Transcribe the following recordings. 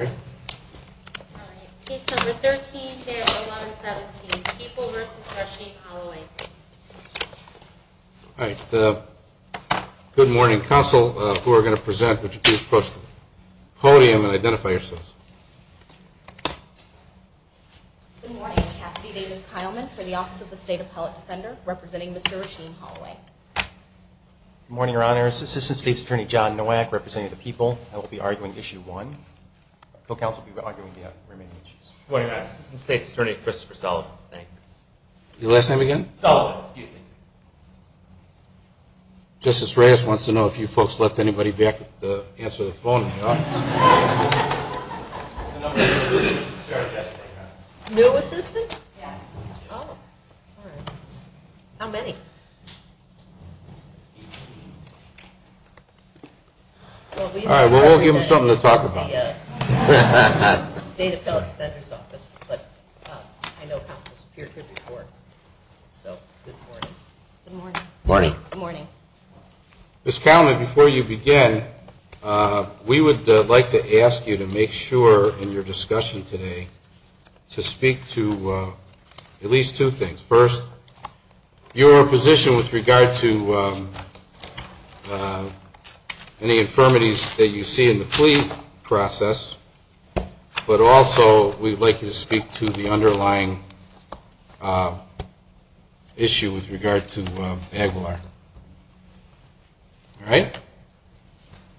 All right. Case number 13, K.R. 1117, People v. Rasheem Holloway. All right. Good morning. Counsel, who are going to present, would you please approach the podium and identify yourselves? Good morning. Cassidy Davis-Kileman for the Office of the State Appellate Defender, representing Mr. Rasheem Holloway. Good morning, Your Honor. Assistant State's Attorney John Nowak, representing the People. I will be arguing Issue 1. Co-Counsel will be arguing the remaining issues. Good morning, Your Honor. Assistant State's Attorney Christopher Sullivan, thank you. Your last name again? Sullivan, excuse me. Justice Reyes wants to know if you folks left anybody back to answer the phone in the office. New assistants? Yeah. Oh. All right. How many? All right. Well, we'll give them something to talk about. The State Appellate Defender's Office, but I know Counsel Superior could report. So, good morning. Good morning. Good morning. Ms. Kileman, before you begin, we would like to ask you to make sure in your discussion today to speak to at least two things. First, your position with regard to any infirmities that you see in the plea process. But also, we'd like you to speak to the underlying issue with regard to Aguilar. All right?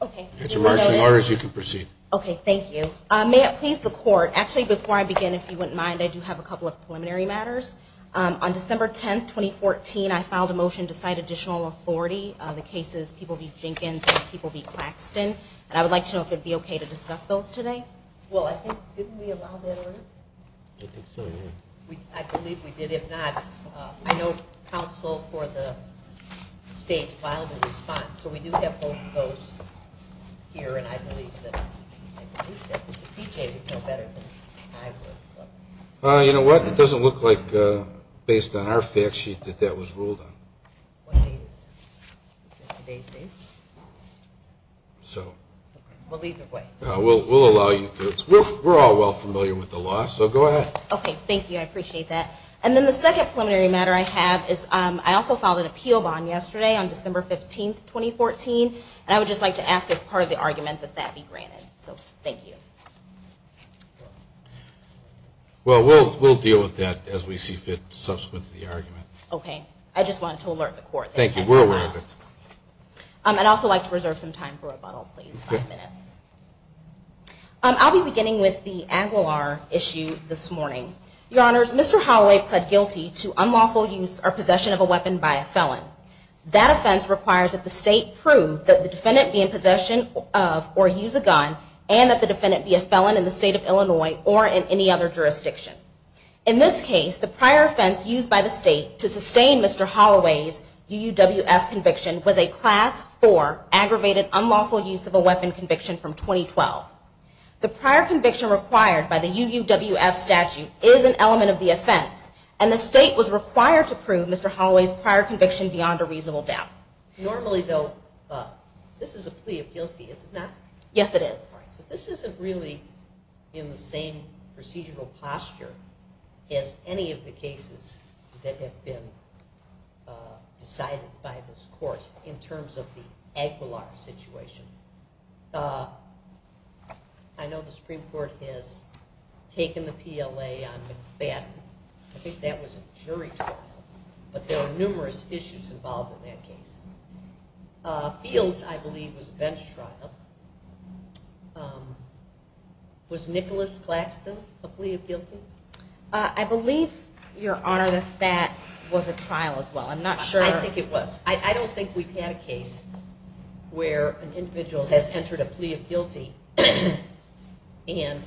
Okay. If that's your marching orders, you can proceed. Okay. Thank you. May it please the Court, actually, before I begin, if you wouldn't mind, I do have a couple of preliminary matters. On December 10, 2014, I filed a motion to cite additional authority on the cases, people v. Jenkins and people v. Claxton. And I would like to know if it would be okay to discuss those today. Well, I think, didn't we allow that order? I think so, yeah. I believe we did. If not, I know Counsel for the State filed a response. So, we do have both of those here. And I believe that PJ would know better than I would. You know what? It doesn't look like, based on our fact sheet, that that was ruled on. So. Well, either way. We'll allow you to. We're all well familiar with the law. So, go ahead. Okay. Thank you. I appreciate that. And then the second preliminary matter I have is I also filed an appeal bond yesterday on December 15, 2014. And I would just like to ask, as part of the argument, that that be granted. So, thank you. Well, we'll deal with that as we see fit subsequent to the argument. Okay. I just wanted to alert the Court. Thank you. We're aware of it. And I'd also like to reserve some time for rebuttal, please. Five minutes. I'll be beginning with the Aguilar issue this morning. Your Honors, Mr. Holloway pled guilty to unlawful use or possession of a weapon by a felon. That offense requires that the State prove that the defendant be in possession of or use a gun and that the defendant be a felon in the State of Illinois or in any other jurisdiction. In this case, the prior offense used by the State to sustain Mr. Holloway's UUWF conviction was a Class IV aggravated unlawful use of a weapon conviction from 2012. The prior conviction required by the UUWF statute is an element of the offense and the State was required to prove Mr. Holloway's prior conviction beyond a reasonable doubt. Normally, though, this is a plea of guilty, isn't it? Yes, it is. This isn't really in the same procedural posture as any of the cases that have been decided by this Court in terms of the Aguilar situation. I know the Supreme Court has taken the PLA on McFadden. I think that was a jury trial, but there are numerous issues involved in that case. Fields, I believe, was a bench trial. Was Nicholas Claxton a plea of guilty? I believe, Your Honor, that that was a trial as well. I'm not sure. I think it was. I don't think we've had a case where an individual has entered a plea of guilty and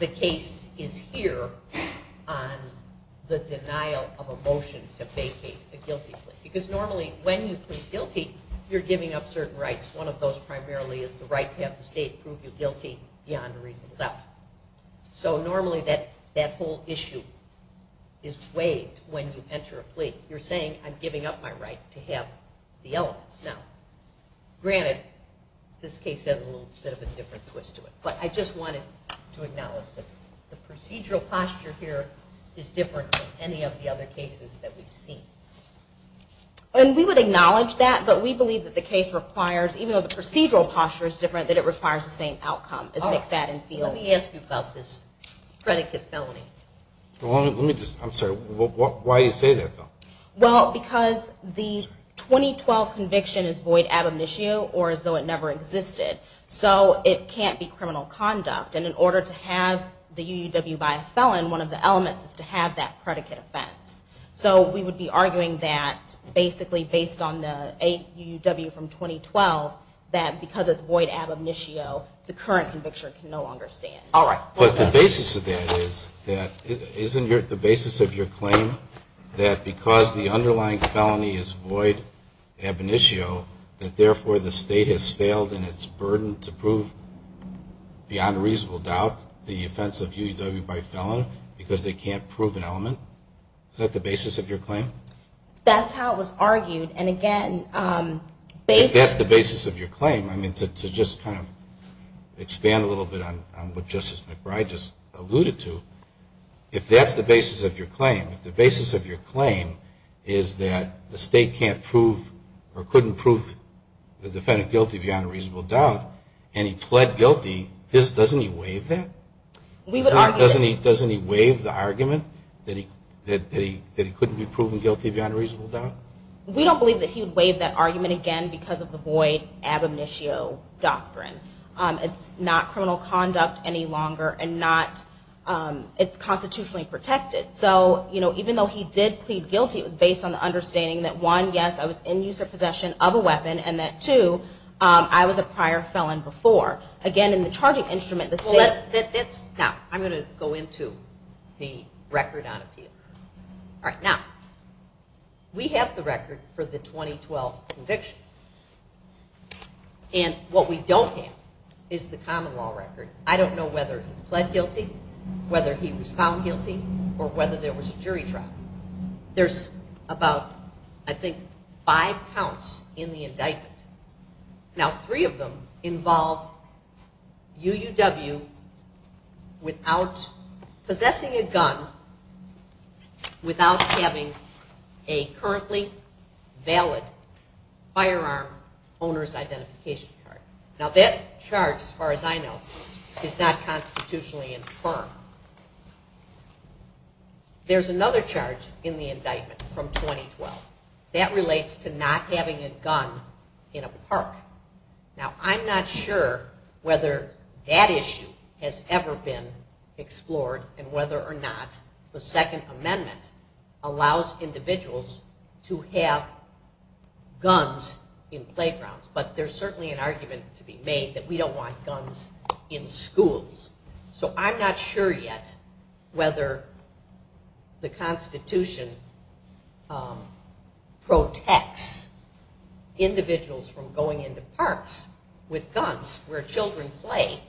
the case is here on the denial of a motion to vacate a guilty plea. Normally, when you plead guilty, you're giving up certain rights. One of those primarily is the right to have the State prove you guilty beyond a reasonable doubt. Normally, that whole issue is waived when you enter a plea. You're saying, I'm giving up my right to have the elements. Granted, this case has a little bit of a different twist to it, but I just wanted to acknowledge that the procedural posture here is different than any of the other cases that we've seen. We would acknowledge that, but we believe that the case requires, even though the procedural posture is different, that it requires the same outcome as McFadden-Fields. Let me ask you about this predicate felony. I'm sorry. Why do you say that, though? Because the 2012 conviction is void ad omniscio, or as though it never existed, so it can't be criminal conduct. And in order to have the UUW buy a felon, one of the elements is to have that predicate offense. So we would be arguing that, basically based on the UUW from 2012, that because it's void ad omniscio, the current conviction can no longer stand. All right. But the basis of that is, isn't the basis of your claim that because the underlying felony is void ad omniscio, that therefore the state has failed in its burden to prove, beyond a reasonable doubt, the offense of UUW by felon because they can't prove an element? Is that the basis of your claim? That's how it was argued. And, again, basically the basis of your claim, I mean, to just kind of expand a little bit on what Justice McBride just alluded to, if that's the basis of your claim, if the basis of your claim is that the state can't prove or couldn't prove the defendant guilty beyond a reasonable doubt, and he pled guilty, doesn't he waive that? We would argue that. Doesn't he waive the argument that he couldn't be proven guilty beyond a reasonable doubt? We don't believe that he would waive that argument again because of the void ad omniscio doctrine. It's not criminal conduct any longer, and it's constitutionally protected. So, you know, even though he did plead guilty, it was based on the understanding that, one, yes, I was in use or possession of a weapon, and that, two, I was a prior felon before. Again, in the charging instrument, the state- Now, I'm going to go into the record on appeal. All right, now, we have the record for the 2012 conviction, and what we don't have is the common law record. I don't know whether he pled guilty, whether he was found guilty, or whether there was a jury trial. There's about, I think, five counts in the indictment. Now, three of them involve UUW without possessing a gun, without having a currently valid firearm owner's identification card. Now, that charge, as far as I know, is not constitutionally infirm. There's another charge in the indictment from 2012. That relates to not having a gun in a park. Now, I'm not sure whether that issue has ever been explored and whether or not the Second Amendment allows individuals to have guns in playgrounds, but there's certainly an argument to be made that we don't want guns in schools. So I'm not sure yet whether the Constitution protects individuals from going into parks with guns where children play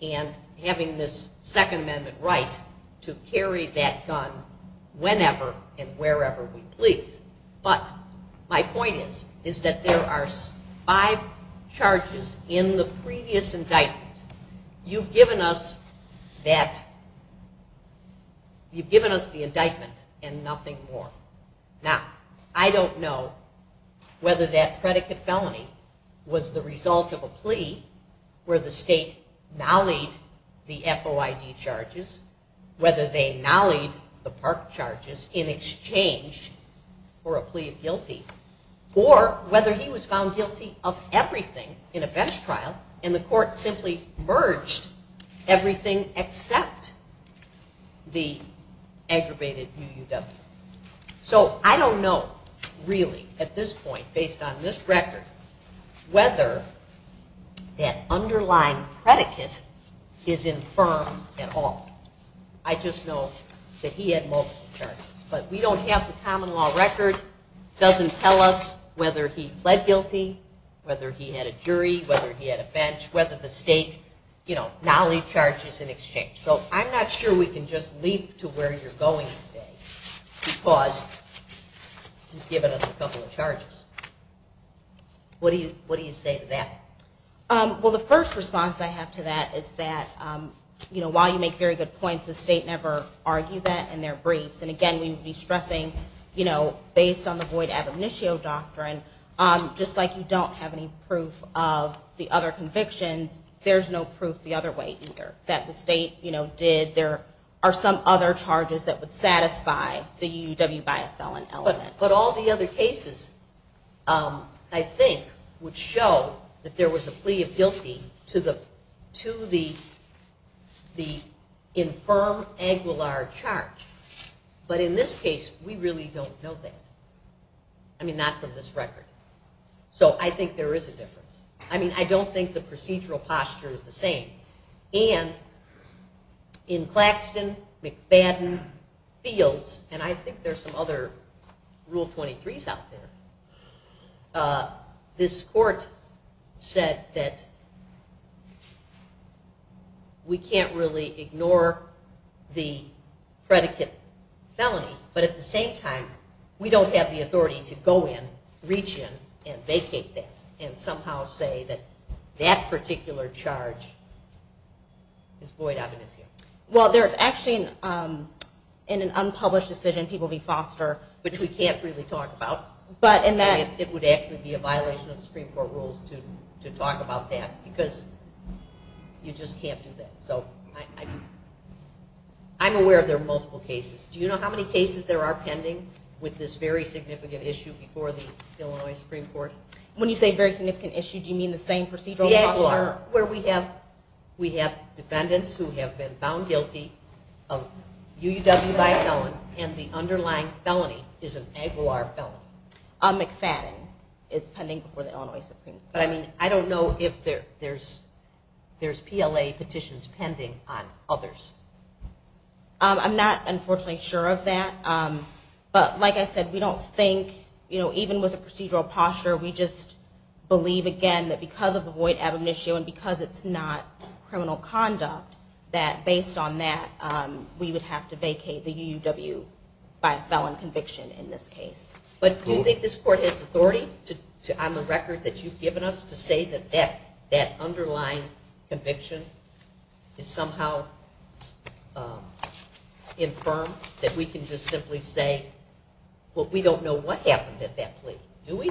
and having this Second Amendment right to carry that gun whenever and wherever we please. But my point is that there are five charges in the previous indictment. You've given us the indictment and nothing more. Now, I don't know whether that predicate felony was the result of a plea where the state nollied the FOID charges, whether they nollied the park charges in exchange for a plea of guilty, or whether he was found guilty of everything in a bench trial and the court simply merged everything except the aggravated UUW. So I don't know, really, at this point, based on this record, whether that underlying predicate is infirm at all. I just know that he had multiple charges. But we don't have the common law record. It doesn't tell us whether he pled guilty, whether he had a jury, whether he had a bench, whether the state nollied charges in exchange. So I'm not sure we can just leap to where you're going today because you've given us a couple of charges. What do you say to that? Well, the first response I have to that is that while you make very good points, the state never argued that in their briefs. And, again, we would be stressing, based on the FOID ab initio doctrine, just like you don't have any proof of the other convictions, there's no proof the other way either, that the state did. There are some other charges that would satisfy the UUW by a felon element. But all the other cases, I think, would show that there was a plea of guilty to the infirm angular charge. But in this case, we really don't know that. I mean, not from this record. So I think there is a difference. I mean, I don't think the procedural posture is the same. And in Claxton, McFadden, Fields, and I think there's some other Rule 23s out there, this court said that we can't really ignore the predicate felony. But at the same time, we don't have the authority to go in, reach in, and vacate that and somehow say that that particular charge is FOID ab initio. Well, there's actually, in an unpublished decision, people be fostered. Which we can't really talk about. It would actually be a violation of the Supreme Court rules to talk about that because you just can't do that. So I'm aware there are multiple cases. Do you know how many cases there are pending with this very significant issue before the Illinois Supreme Court? When you say very significant issue, do you mean the same procedural posture? The AGLR, where we have defendants who have been found guilty of UUW by a felon, and the underlying felony is an AGLR felony. McFadden is pending before the Illinois Supreme Court. But, I mean, I don't know if there's PLA petitions pending on others. I'm not, unfortunately, sure of that. But, like I said, we don't think, even with a procedural posture, we just believe, again, that because of the FOID ab initio and because it's not criminal conduct, that based on that, we would have to vacate the UUW by a felon conviction in this case. But do you think this Court has authority on the record that you've given us to say that that underlying conviction is somehow infirm? That we can just simply say, well, we don't know what happened at that plea, do we?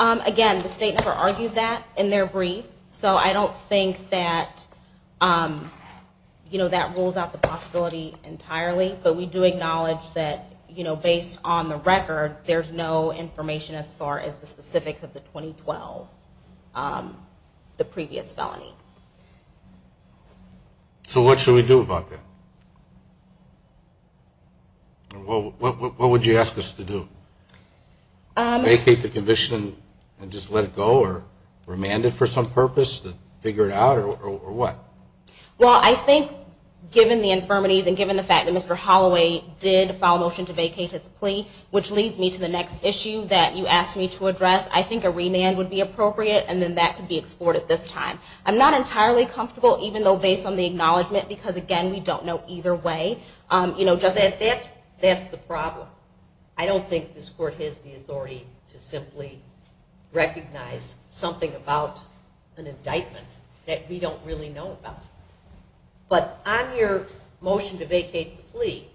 Again, the state never argued that in their brief, so I don't think that rules out the possibility entirely. But we do acknowledge that based on the record, there's no information as far as the specifics of the 2012, the previous felony. So what should we do about that? What would you ask us to do? Vacate the conviction and just let it go, or remand it for some purpose, figure it out, or what? Well, I think, given the infirmities and given the fact that Mr. Holloway did file a motion to vacate his plea, which leads me to the next issue that you asked me to address, I think a remand would be appropriate, and then that could be explored at this time. I'm not entirely comfortable, even though based on the acknowledgement, because, again, we don't know either way. That's the problem. I don't think this Court has the authority to simply recognize something about an indictment that we don't really know about. But on your motion to vacate the plea,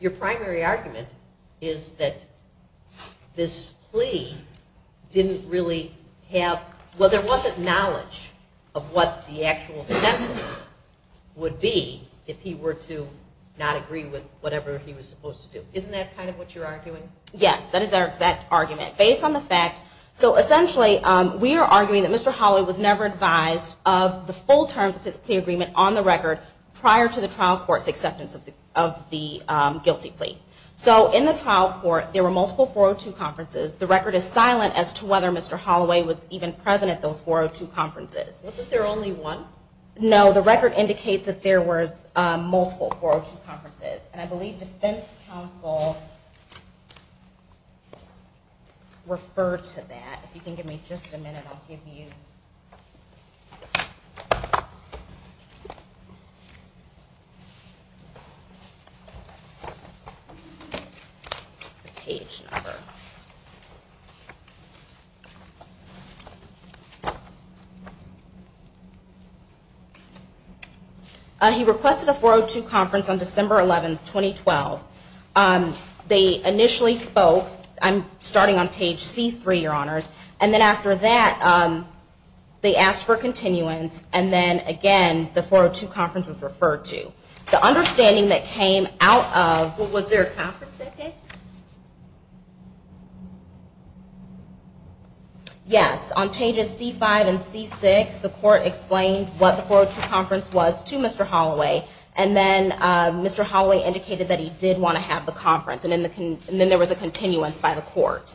your primary argument is that this plea didn't really have, well, there wasn't knowledge of what the actual sentence would be if he were to not agree with whatever he was supposed to do. Isn't that kind of what you're arguing? Yes, that is our exact argument. So essentially, we are arguing that Mr. Holloway was never advised of the full terms of his plea agreement on the record prior to the trial court's acceptance of the guilty plea. So in the trial court, there were multiple 402 conferences. The record is silent as to whether Mr. Holloway was even present at those 402 conferences. Was it there only one? No, the record indicates that there were multiple 402 conferences, and I believe defense counsel referred to that. If you can give me just a minute, I'll give you the page number. He requested a 402 conference on December 11, 2012. They initially spoke, starting on page C3, Your Honors, and then after that they asked for continuance, and then again the 402 conference was referred to. The understanding that came out of... Was there a conference that day? Yes, on pages C5 and C6, the court explained what the 402 conference was to Mr. Holloway, and then Mr. Holloway indicated that he did want to have the conference, and then there was a continuance by the court.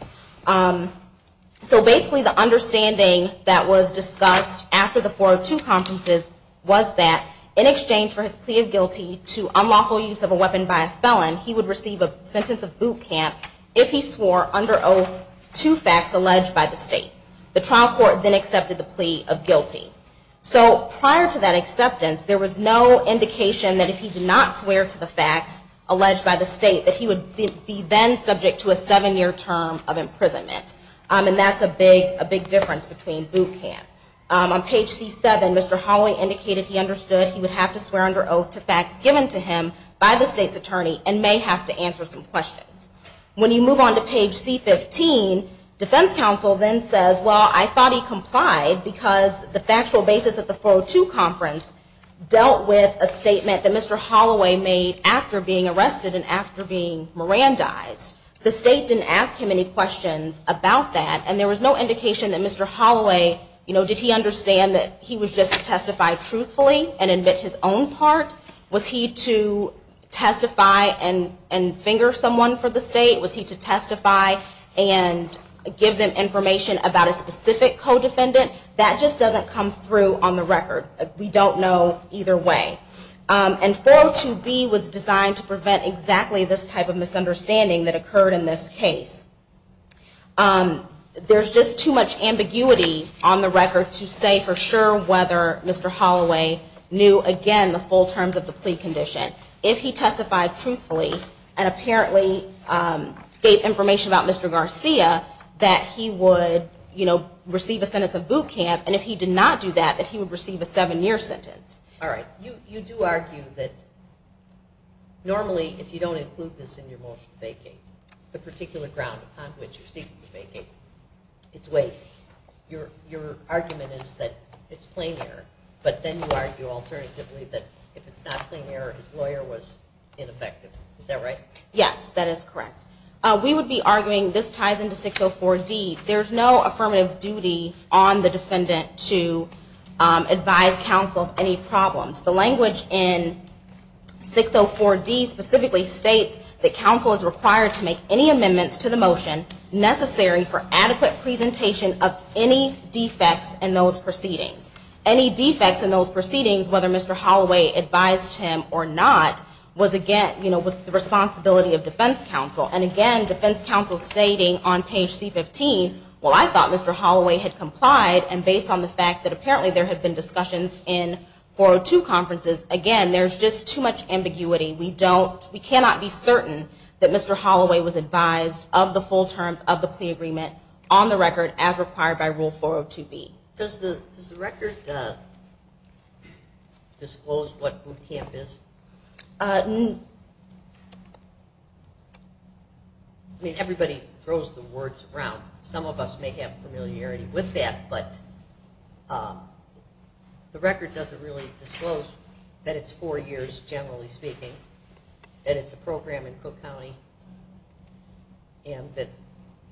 So basically, the understanding that was discussed after the 402 conferences was that in exchange for his plea of guilty to unlawful use of a weapon by a felon, he would receive a sentence of boot camp if he swore under oath to facts alleged by the state. The trial court then accepted the plea of guilty. So prior to that acceptance, there was no indication that if he did not swear to the facts alleged by the state, that he would be then subject to a seven-year term of imprisonment, and that's a big difference between boot camp. On page C7, Mr. Holloway indicated he understood he would have to swear under oath to facts given to him by the state's attorney and may have to answer some questions. When you move on to page C15, defense counsel then says, well, I thought he complied because the factual basis of the 402 conference dealt with a statement that Mr. Holloway made after being arrested and after being Mirandized. The state didn't ask him any questions about that, and there was no indication that Mr. Holloway, you know, did he understand that he was just to testify truthfully and admit his own part? Was he to testify and finger someone for the state? Was he to testify and give them information about a specific co-defendant? That just doesn't come through on the record. We don't know either way. And 402B was designed to prevent exactly this type of misunderstanding that occurred in this case. There's just too much ambiguity on the record to say for sure whether Mr. Holloway knew, again, the full terms of the plea condition. If he testified truthfully and apparently gave information about Mr. Garcia, that he would, you know, receive a sentence of boot camp, and if he did not do that, that he would receive a seven-year sentence. All right. You do argue that normally, if you don't include this in your motion to vacate, the particular ground upon which you're seeking to vacate, it's waived. Your argument is that it's plain error, but then you argue alternatively that if it's not plain error, his lawyer was ineffective. Is that right? Yes, that is correct. We would be arguing this ties into 604D. There's no affirmative duty on the defendant to advise counsel of any problems. The language in 604D specifically states that counsel is required to make any amendments to the motion necessary for adequate presentation of any defects in those proceedings. Any defects in those proceedings, whether Mr. Holloway advised him or not, was the responsibility of defense counsel. And again, defense counsel stating on page C-15, well, I thought Mr. Holloway had complied, and based on the fact that apparently there had been discussions in 402 conferences, again, there's just too much ambiguity. We cannot be certain that Mr. Holloway was advised of the full terms of the plea agreement on the record as required by Rule 402B. Does the record disclose what boot camp is? I mean, everybody throws the words around. Some of us may have familiarity with that, but the record doesn't really disclose that it's four years, generally speaking, that it's a program in Cook County, and that,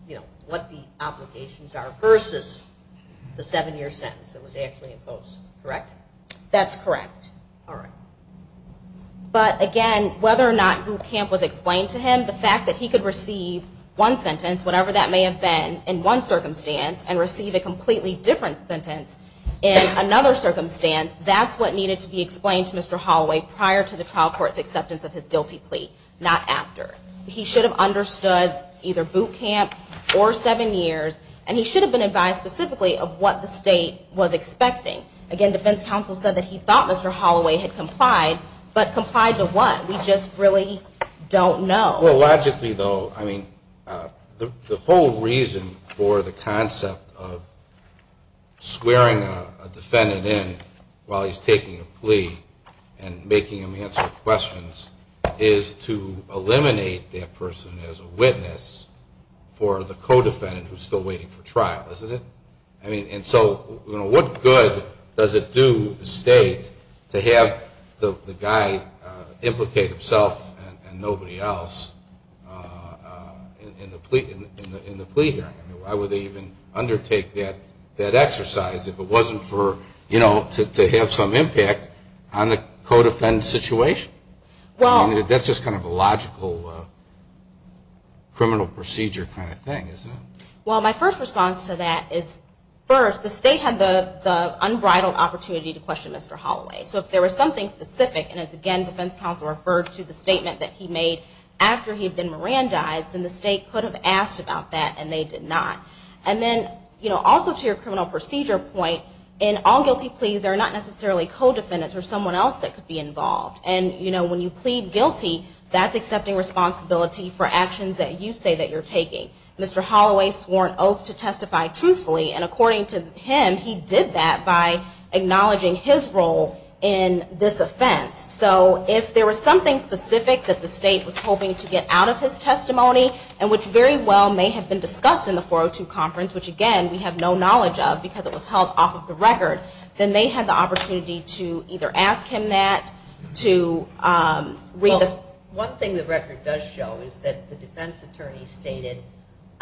you know, what the obligations are versus the seven-year sentence that was actually imposed. Correct? That's correct. All right. But again, whether or not boot camp was explained to him, one sentence, whatever that may have been in one circumstance, and receive a completely different sentence in another circumstance, that's what needed to be explained to Mr. Holloway prior to the trial court's acceptance of his guilty plea, not after. He should have understood either boot camp or seven years, and he should have been advised specifically of what the state was expecting. Again, defense counsel said that he thought Mr. Holloway had complied, but complied to what? We just really don't know. Well, logically, though, I mean, the whole reason for the concept of swearing a defendant in while he's taking a plea and making him answer questions is to eliminate that person as a witness for the co-defendant who's still waiting for trial, isn't it? I mean, and so, you know, what good does it do the state to have the guy implicate himself and nobody else in the plea hearing? I mean, why would they even undertake that exercise if it wasn't for, you know, to have some impact on the co-defendant's situation? I mean, that's just kind of a logical criminal procedure kind of thing, isn't it? Well, my first response to that is, first, the state had the unbridled opportunity to question Mr. Holloway. So if there was something specific, and it's, again, defense counsel referred to the statement that he made after he had been Mirandized, then the state could have asked about that, and they did not. And then, you know, also to your criminal procedure point, in all guilty pleas, there are not necessarily co-defendants or someone else that could be involved. And, you know, when you plead guilty, that's accepting responsibility for actions that you say that you're taking. Mr. Holloway swore an oath to testify truthfully, and according to him, he did that by acknowledging his role in this offense. So if there was something specific that the state was hoping to get out of his testimony, and which very well may have been discussed in the 402 conference, which, again, we have no knowledge of because it was held off of the record, then they had the opportunity to either ask him that, to read the...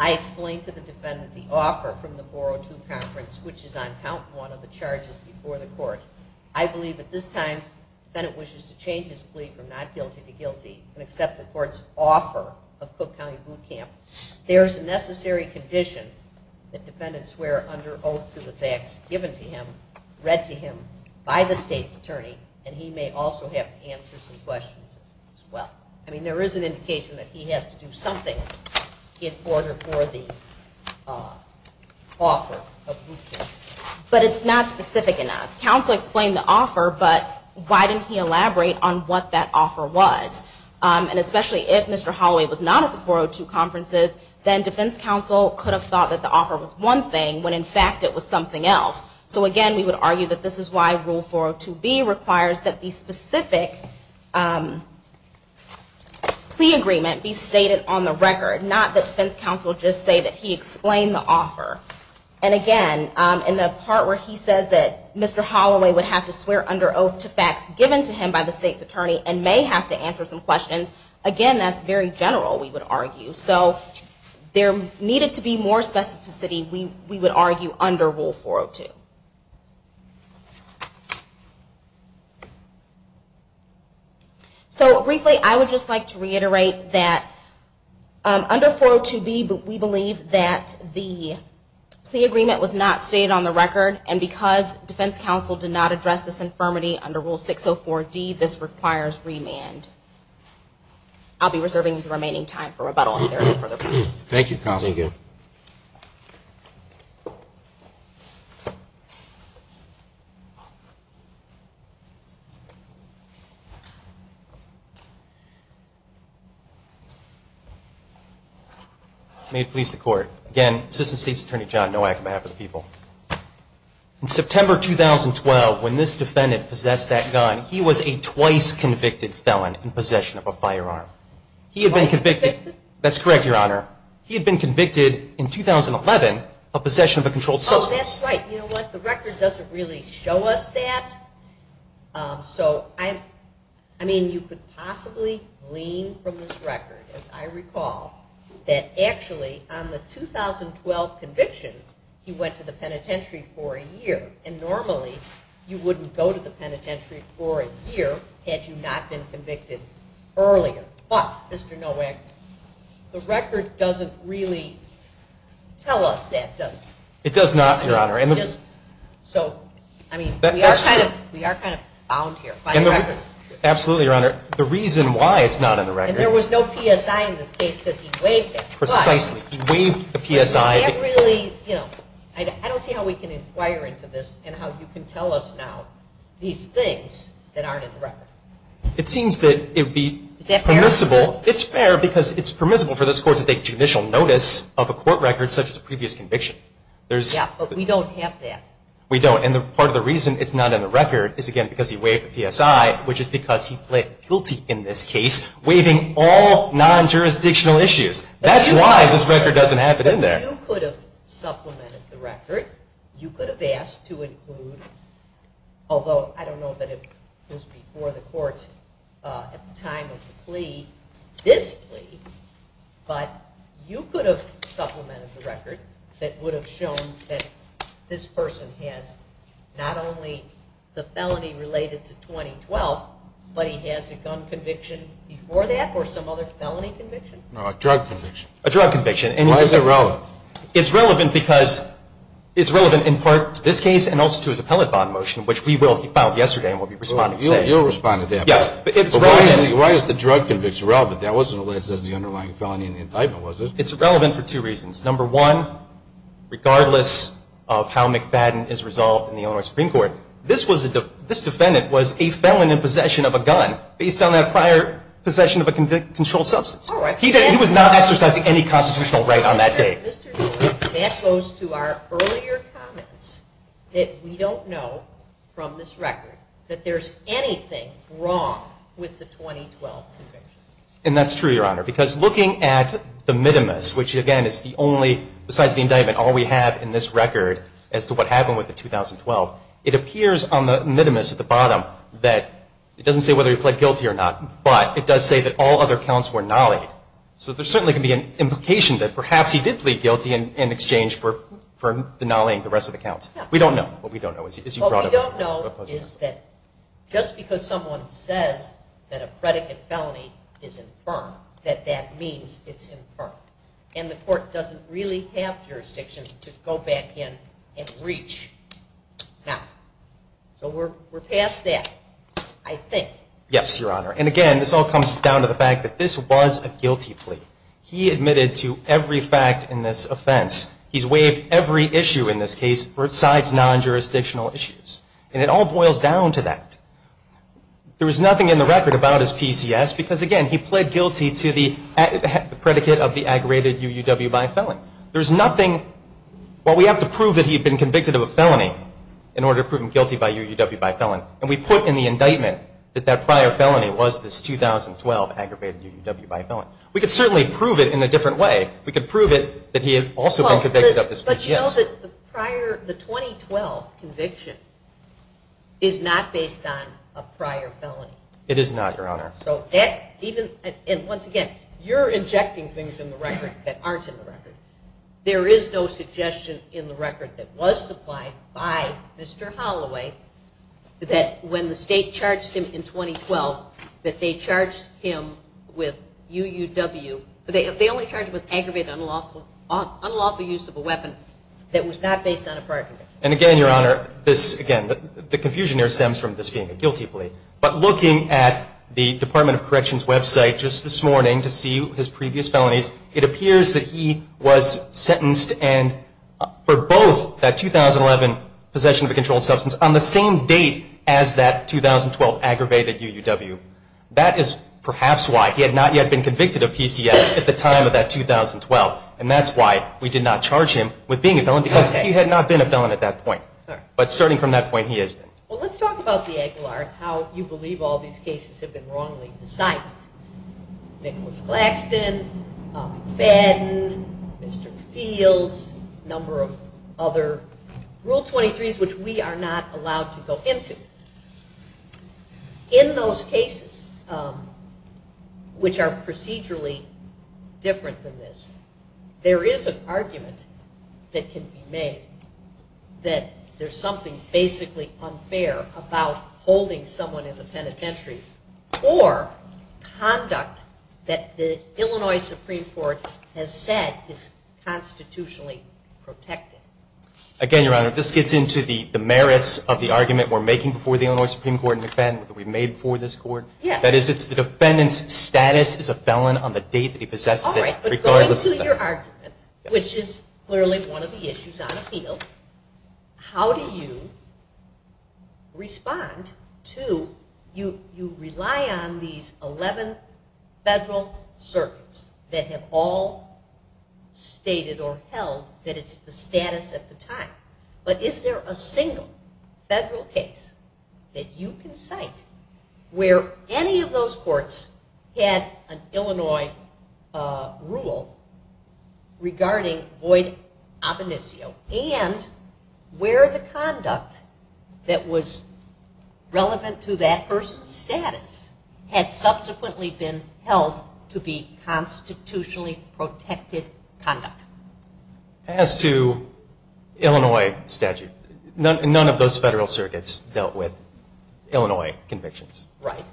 I explained to the defendant the offer from the 402 conference, which is on count one of the charges before the court. I believe at this time the defendant wishes to change his plea from not guilty to guilty and accept the court's offer of Cook County Boot Camp. There is a necessary condition that defendants swear under oath to the facts given to him, read to him by the state's attorney, and he may also have to answer some questions as well. I mean, there is an indication that he has to do something in order for the offer of boot camp. But it's not specific enough. Counsel explained the offer, but why didn't he elaborate on what that offer was? And especially if Mr. Holloway was not at the 402 conferences, then defense counsel could have thought that the offer was one thing, when in fact it was something else. So again, we would argue that this is why Rule 402B requires that the specific plea agreement be stated on the record, not that defense counsel just say that he explained the offer. And again, in the part where he says that Mr. Holloway would have to swear under oath to facts given to him by the state's attorney and may have to answer some questions, again, that's very general, we would argue. So there needed to be more specificity, we would argue, under Rule 402. So briefly, I would just like to reiterate that under 402B, we believe that the plea agreement was not stated on the record, and because defense counsel did not address this infirmity under Rule 604D, this requires remand. I'll be reserving the remaining time for rebuttal if there are any further questions. Thank you, counsel. Thank you. May it please the Court. Again, Assistant State's Attorney John Nowak on behalf of the people. In September 2012, when this defendant possessed that gun, he was a twice convicted felon in possession of a firearm. Twice convicted? That's correct, Your Honor. He had been convicted in 2011 of possession of a controlled substance. Oh, that's right. You know what, the record doesn't really show us that. So, I mean, you could possibly glean from this record, as I recall, that actually on the 2012 conviction, he went to the penitentiary for a year, and normally you wouldn't go to the penitentiary for a year had you not been convicted earlier. But, Mr. Nowak, the record doesn't really tell us that, does it? It does not, Your Honor. So, I mean, we are kind of bound here by the record. Absolutely, Your Honor. The reason why it's not in the record. And there was no PSI in this case because he waived it. Precisely. He waived the PSI. I don't see how we can inquire into this and how you can tell us now these things that aren't in the record. It seems that it would be permissible. Is that fair? It's fair because it's permissible for this court to take judicial notice of a court record such as a previous conviction. Yeah, but we don't have that. We don't. And part of the reason it's not in the record is, again, because he waived the PSI, which is because he pled guilty in this case, waiving all non-jurisdictional issues. That's why this record doesn't have it in there. You could have supplemented the record. You could have asked to include, although I don't know that it was before the court at the time of the plea, this plea. But you could have supplemented the record that would have shown that this person has not only the felony related to 2012, but he has a gun conviction before that or some other felony conviction? No, a drug conviction. A drug conviction. Why is it relevant? It's relevant because it's relevant in part to this case and also to his appellate bond motion, which he filed yesterday and will be responding today. You'll respond to that. Yes. But why is the drug conviction relevant? That wasn't alleged as the underlying felony in the indictment, was it? It's relevant for two reasons. Number one, regardless of how McFadden is resolved in the Illinois Supreme Court, this defendant was a felon in possession of a gun based on that prior possession of a controlled substance. He was not exercising any constitutional right on that day. That goes to our earlier comments that we don't know from this record that there's anything wrong with the 2012 conviction. And that's true, Your Honor, because looking at the minimus, which again is the only, besides the indictment, all we have in this record as to what happened with the 2012, it appears on the minimus at the bottom that it doesn't say whether he pled guilty or not, but it does say that all other counts were not. So there certainly can be an implication that perhaps he did plead guilty in exchange for not laying the rest of the counts. We don't know. What we don't know is that just because someone says that a predicate felony is infirm, that that means it's infirm. And the court doesn't really have jurisdiction to go back in and reach now. So we're past that, I think. Yes, Your Honor. And again, this all comes down to the fact that this was a guilty plea. He admitted to every fact in this offense. He's waived every issue in this case besides non-jurisdictional issues. And it all boils down to that. There was nothing in the record about his PCS because, again, he pled guilty to the predicate of the aggravated UUW by felon. There's nothing. Well, we have to prove that he had been convicted of a felony in order to prove him guilty by UUW by felon. And we put in the indictment that that prior felony was this 2012 aggravated UUW by felon. We could certainly prove it in a different way. We could prove it that he had also been convicted of this PCS. But you know that the 2012 conviction is not based on a prior felony. It is not, Your Honor. And once again, you're injecting things in the record that aren't in the record. There is no suggestion in the record that was supplied by Mr. Holloway that when the state charged him in 2012 that they charged him with UUW. They only charged him with aggravated unlawful use of a weapon that was not based on a prior conviction. And, again, Your Honor, this, again, the confusion here stems from this being a guilty plea. But looking at the Department of Corrections' website just this morning to see his previous felonies, it appears that he was sentenced for both that 2011 possession of a controlled substance on the same date as that 2012 aggravated UUW. That is perhaps why he had not yet been convicted of PCS at the time of that 2012. And that's why we did not charge him with being a felon because he had not been a felon at that point. But starting from that point, he has been. Well, let's talk about the Aguilar and how you believe all these cases have been wrongly decided. Nicholas Claxton, Ben, Mr. Fields, a number of other Rule 23s which we are not allowed to go into. In those cases, which are procedurally different than this, there is an argument that can be made that there's something basically unfair about holding someone in the penitentiary or conduct that the Illinois Supreme Court has said is constitutionally protected. Again, Your Honor, this gets into the merits of the argument we're making before the Illinois Supreme Court and the defendant that we made before this court. That is, it's the defendant's status as a felon on the date that he possesses it regardless of that. In that argument, which is clearly one of the issues on appeal, how do you respond to you rely on these 11 federal circuits that have all stated or held that it's the status at the time. But is there a single federal case that you can cite where any of those courts had an Illinois rule regarding void ab initio and where the conduct that was relevant to that person's status had subsequently been held to be constitutionally protected conduct? As to Illinois statute, none of those federal circuits dealt with Illinois convictions. Right.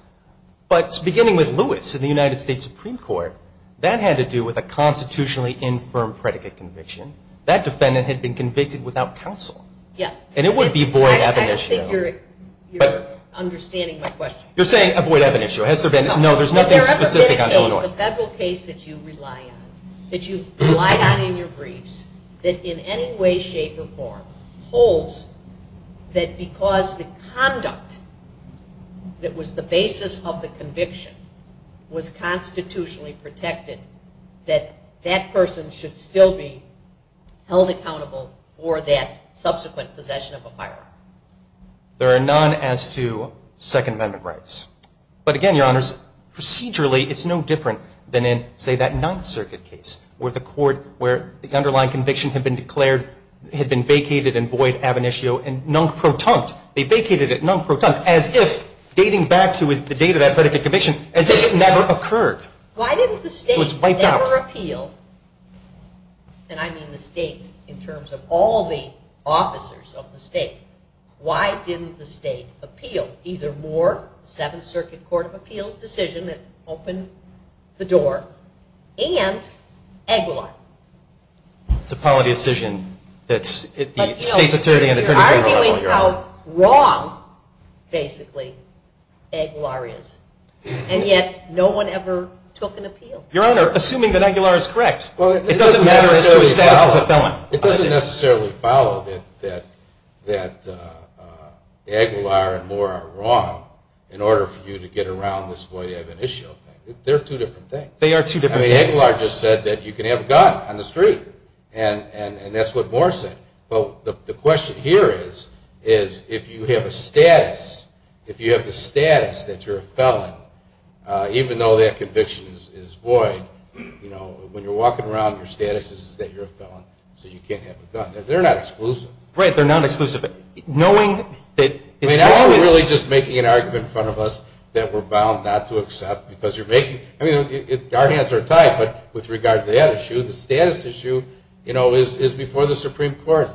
But beginning with Lewis in the United States Supreme Court, that had to do with a constitutionally infirm predicate conviction. That defendant had been convicted without counsel. Yeah. And it would be void ab initio. I think you're understanding my question. You're saying avoid ab initio. Has there been? No, there's nothing specific on Illinois. Has there ever been a case, a federal case that you rely on, that you've relied on in your briefs that in any way, shape, or form holds that because the conduct that was the basis of the conviction was constitutionally protected, that that person should still be held accountable for that subsequent possession of a firearm? There are none as to Second Amendment rights. But again, Your Honors, procedurally, it's no different than in, say, that Ninth Circuit case where the court, where the underlying conviction had been declared, had been vacated and void ab initio and non-protunct. They vacated it non-protunct as if, dating back to the date of that predicate conviction, as if it never occurred. Why didn't the state ever appeal? And I mean the state in terms of all the officers of the state. Why didn't the state appeal? Either Moore, Seventh Circuit Court of Appeals decision that opened the door, and Aguilar. It's a policy decision that the state's attorney and attorney general... You're arguing how wrong, basically, Aguilar is. And yet no one ever took an appeal. Your Honor, assuming that Aguilar is correct. It doesn't matter as to his status as a felon. It doesn't necessarily follow that Aguilar and Moore are wrong in order for you to get around this void ab initio thing. They're two different things. Aguilar just said that you can have a gun on the street. And that's what Moore said. But the question here is, if you have a status, if you have the status that you're a felon, even though that conviction is void, when you're walking around, your status is that you're a felon. So you can't have a gun. They're not exclusive. Right, they're not exclusive. Knowing that... I mean, now you're really just making an argument in front of us that we're bound not to accept because you're making... I mean, our hands are tied, but with regard to that issue, the status issue is before the Supreme Court.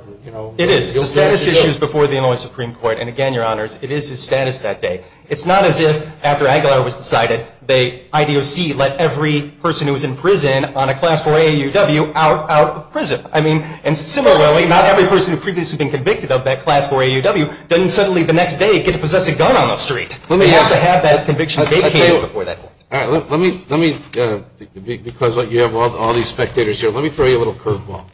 It is. The status issue is before the Illinois Supreme Court. And again, Your Honors, it is his status that day. It's not as if, after Aguilar was decided, the IDOC let every person who was in prison on a Class 4 AAUW out of prison. I mean, and similarly, not every person who had previously been convicted of that Class 4 AAUW doesn't suddenly the next day get to possess a gun on the street. They also have that conviction they came before that point. Let me, because you have all these spectators here, let me throw you a little curveball.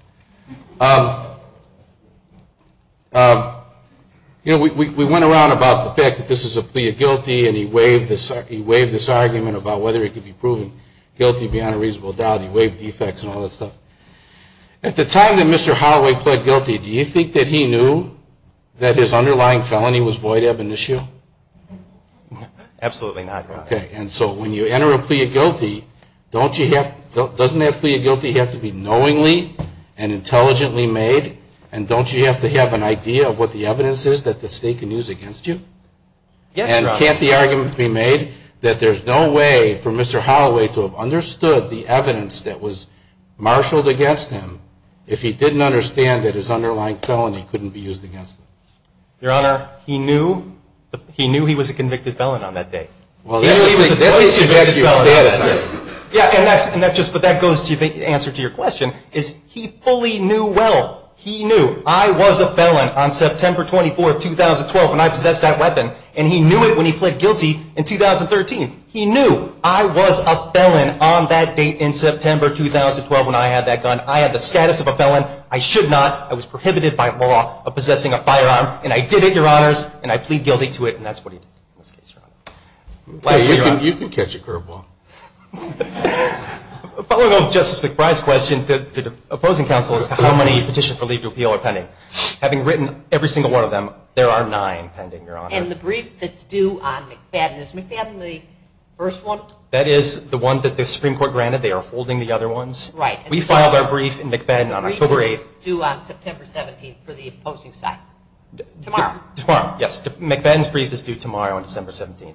You know, we went around about the fact that this is a plea of guilty, and he waived this argument about whether he could be proven guilty beyond a reasonable doubt. He waived defects and all that stuff. At the time that Mr. Holloway pled guilty, do you think that he knew that his underlying felony was void ebonitio? Absolutely not, Your Honor. Okay, and so when you enter a plea of guilty, doesn't that plea of guilty have to be knowingly, and intelligently made? And don't you have to have an idea of what the evidence is that the state can use against you? Yes, Your Honor. And can't the argument be made that there's no way for Mr. Holloway to have understood the evidence that was marshaled against him if he didn't understand that his underlying felony couldn't be used against him? Your Honor, he knew he was a convicted felon on that day. He was a close convicted felon on that day. Yeah, and that goes to the answer to your question, is he fully knew well. He knew. I was a felon on September 24, 2012 when I possessed that weapon, and he knew it when he pled guilty in 2013. He knew I was a felon on that date in September 2012 when I had that gun. I had the status of a felon. I should not. I was prohibited by law of possessing a firearm, and I did it, Your Honors, and I plead guilty to it, and that's what he did in this case, Your Honor. You can catch a curveball. Following on Justice McBride's question, the opposing counsel as to how many petitions for leave to appeal are pending. Having written every single one of them, there are nine pending, Your Honor. And the brief that's due on McFadden, is McFadden the first one? That is the one that the Supreme Court granted. They are holding the other ones. We filed our brief in McFadden on October 8th. The brief is due on September 17th for the opposing side. Tomorrow. Tomorrow, yes. McFadden's brief is due tomorrow on December 17th.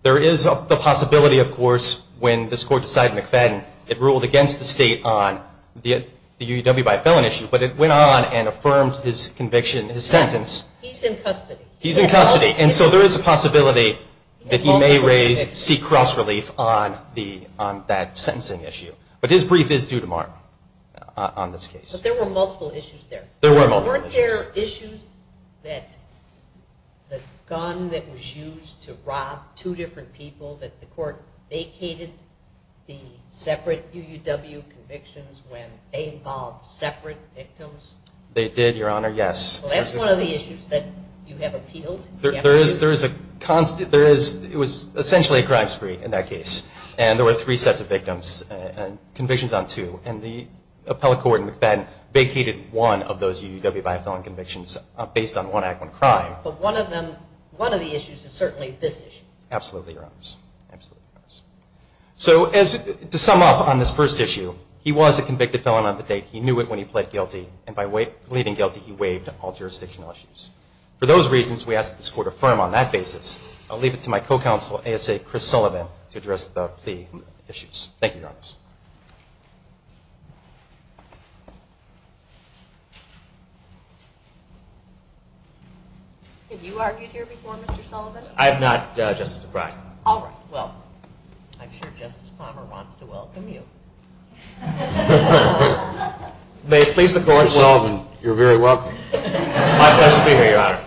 There is the possibility, of course, when this Court decided McFadden, it ruled against the State on the UUW by a felon issue, but it went on and affirmed his conviction, his sentence. He's in custody. He's in custody. And so there is a possibility that he may raise, seek cross-relief on that sentencing issue. But his brief is due tomorrow on this case. But there were multiple issues there. There were multiple issues. Were there issues that the gun that was used to rob two different people, that the Court vacated the separate UUW convictions when they involved separate victims? They did, Your Honor, yes. Well, that's one of the issues that you have appealed. There is a constant. It was essentially a crime spree in that case. And there were three sets of victims and convictions on two. And the appellate court in McFadden vacated one of those UUW by a felon convictions based on one act, one crime. But one of the issues is certainly this issue. Absolutely, Your Honors. So to sum up on this first issue, he was a convicted felon on the date. He knew it when he pled guilty. And by pleading guilty, he waived all jurisdictional issues. For those reasons, we ask that this Court affirm on that basis. I'll leave it to my co-counsel, ASA Chris Sullivan, to address the plea issues. Thank you, Your Honors. Have you argued here before, Mr. Sullivan? I have not, Justice O'Brien. All right. Well, I'm sure Justice Palmer wants to welcome you. Mr. Sullivan, you're very welcome. My pleasure to be here, Your Honor.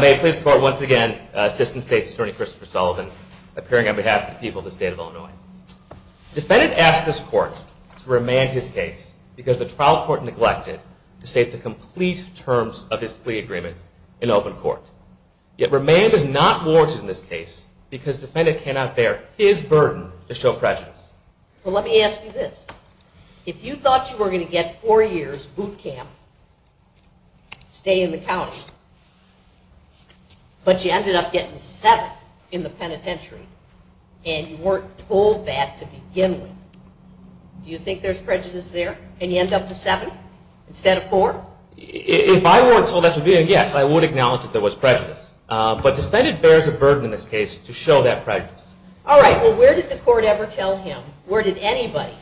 May it please the Court once again, Assistant State's Attorney Christopher Sullivan, appearing on behalf of the people of the State of Illinois. Defendant asked this Court to remand his case because the trial court neglected to state the complete terms of his plea agreement in open court. Yet remand is not warranted in this case because defendant cannot bear his burden to show prejudice. Well, let me ask you this. If you thought you were going to get four years boot camp, stay in the county, but you ended up getting seven in the penitentiary, and you weren't told that to begin with, do you think there's prejudice there and you end up with seven instead of four? If I weren't told that to begin with, yes, I would acknowledge that there was prejudice. But defendant bears a burden in this case to show that prejudice. All right. Well, where did the Court ever tell him, or did anybody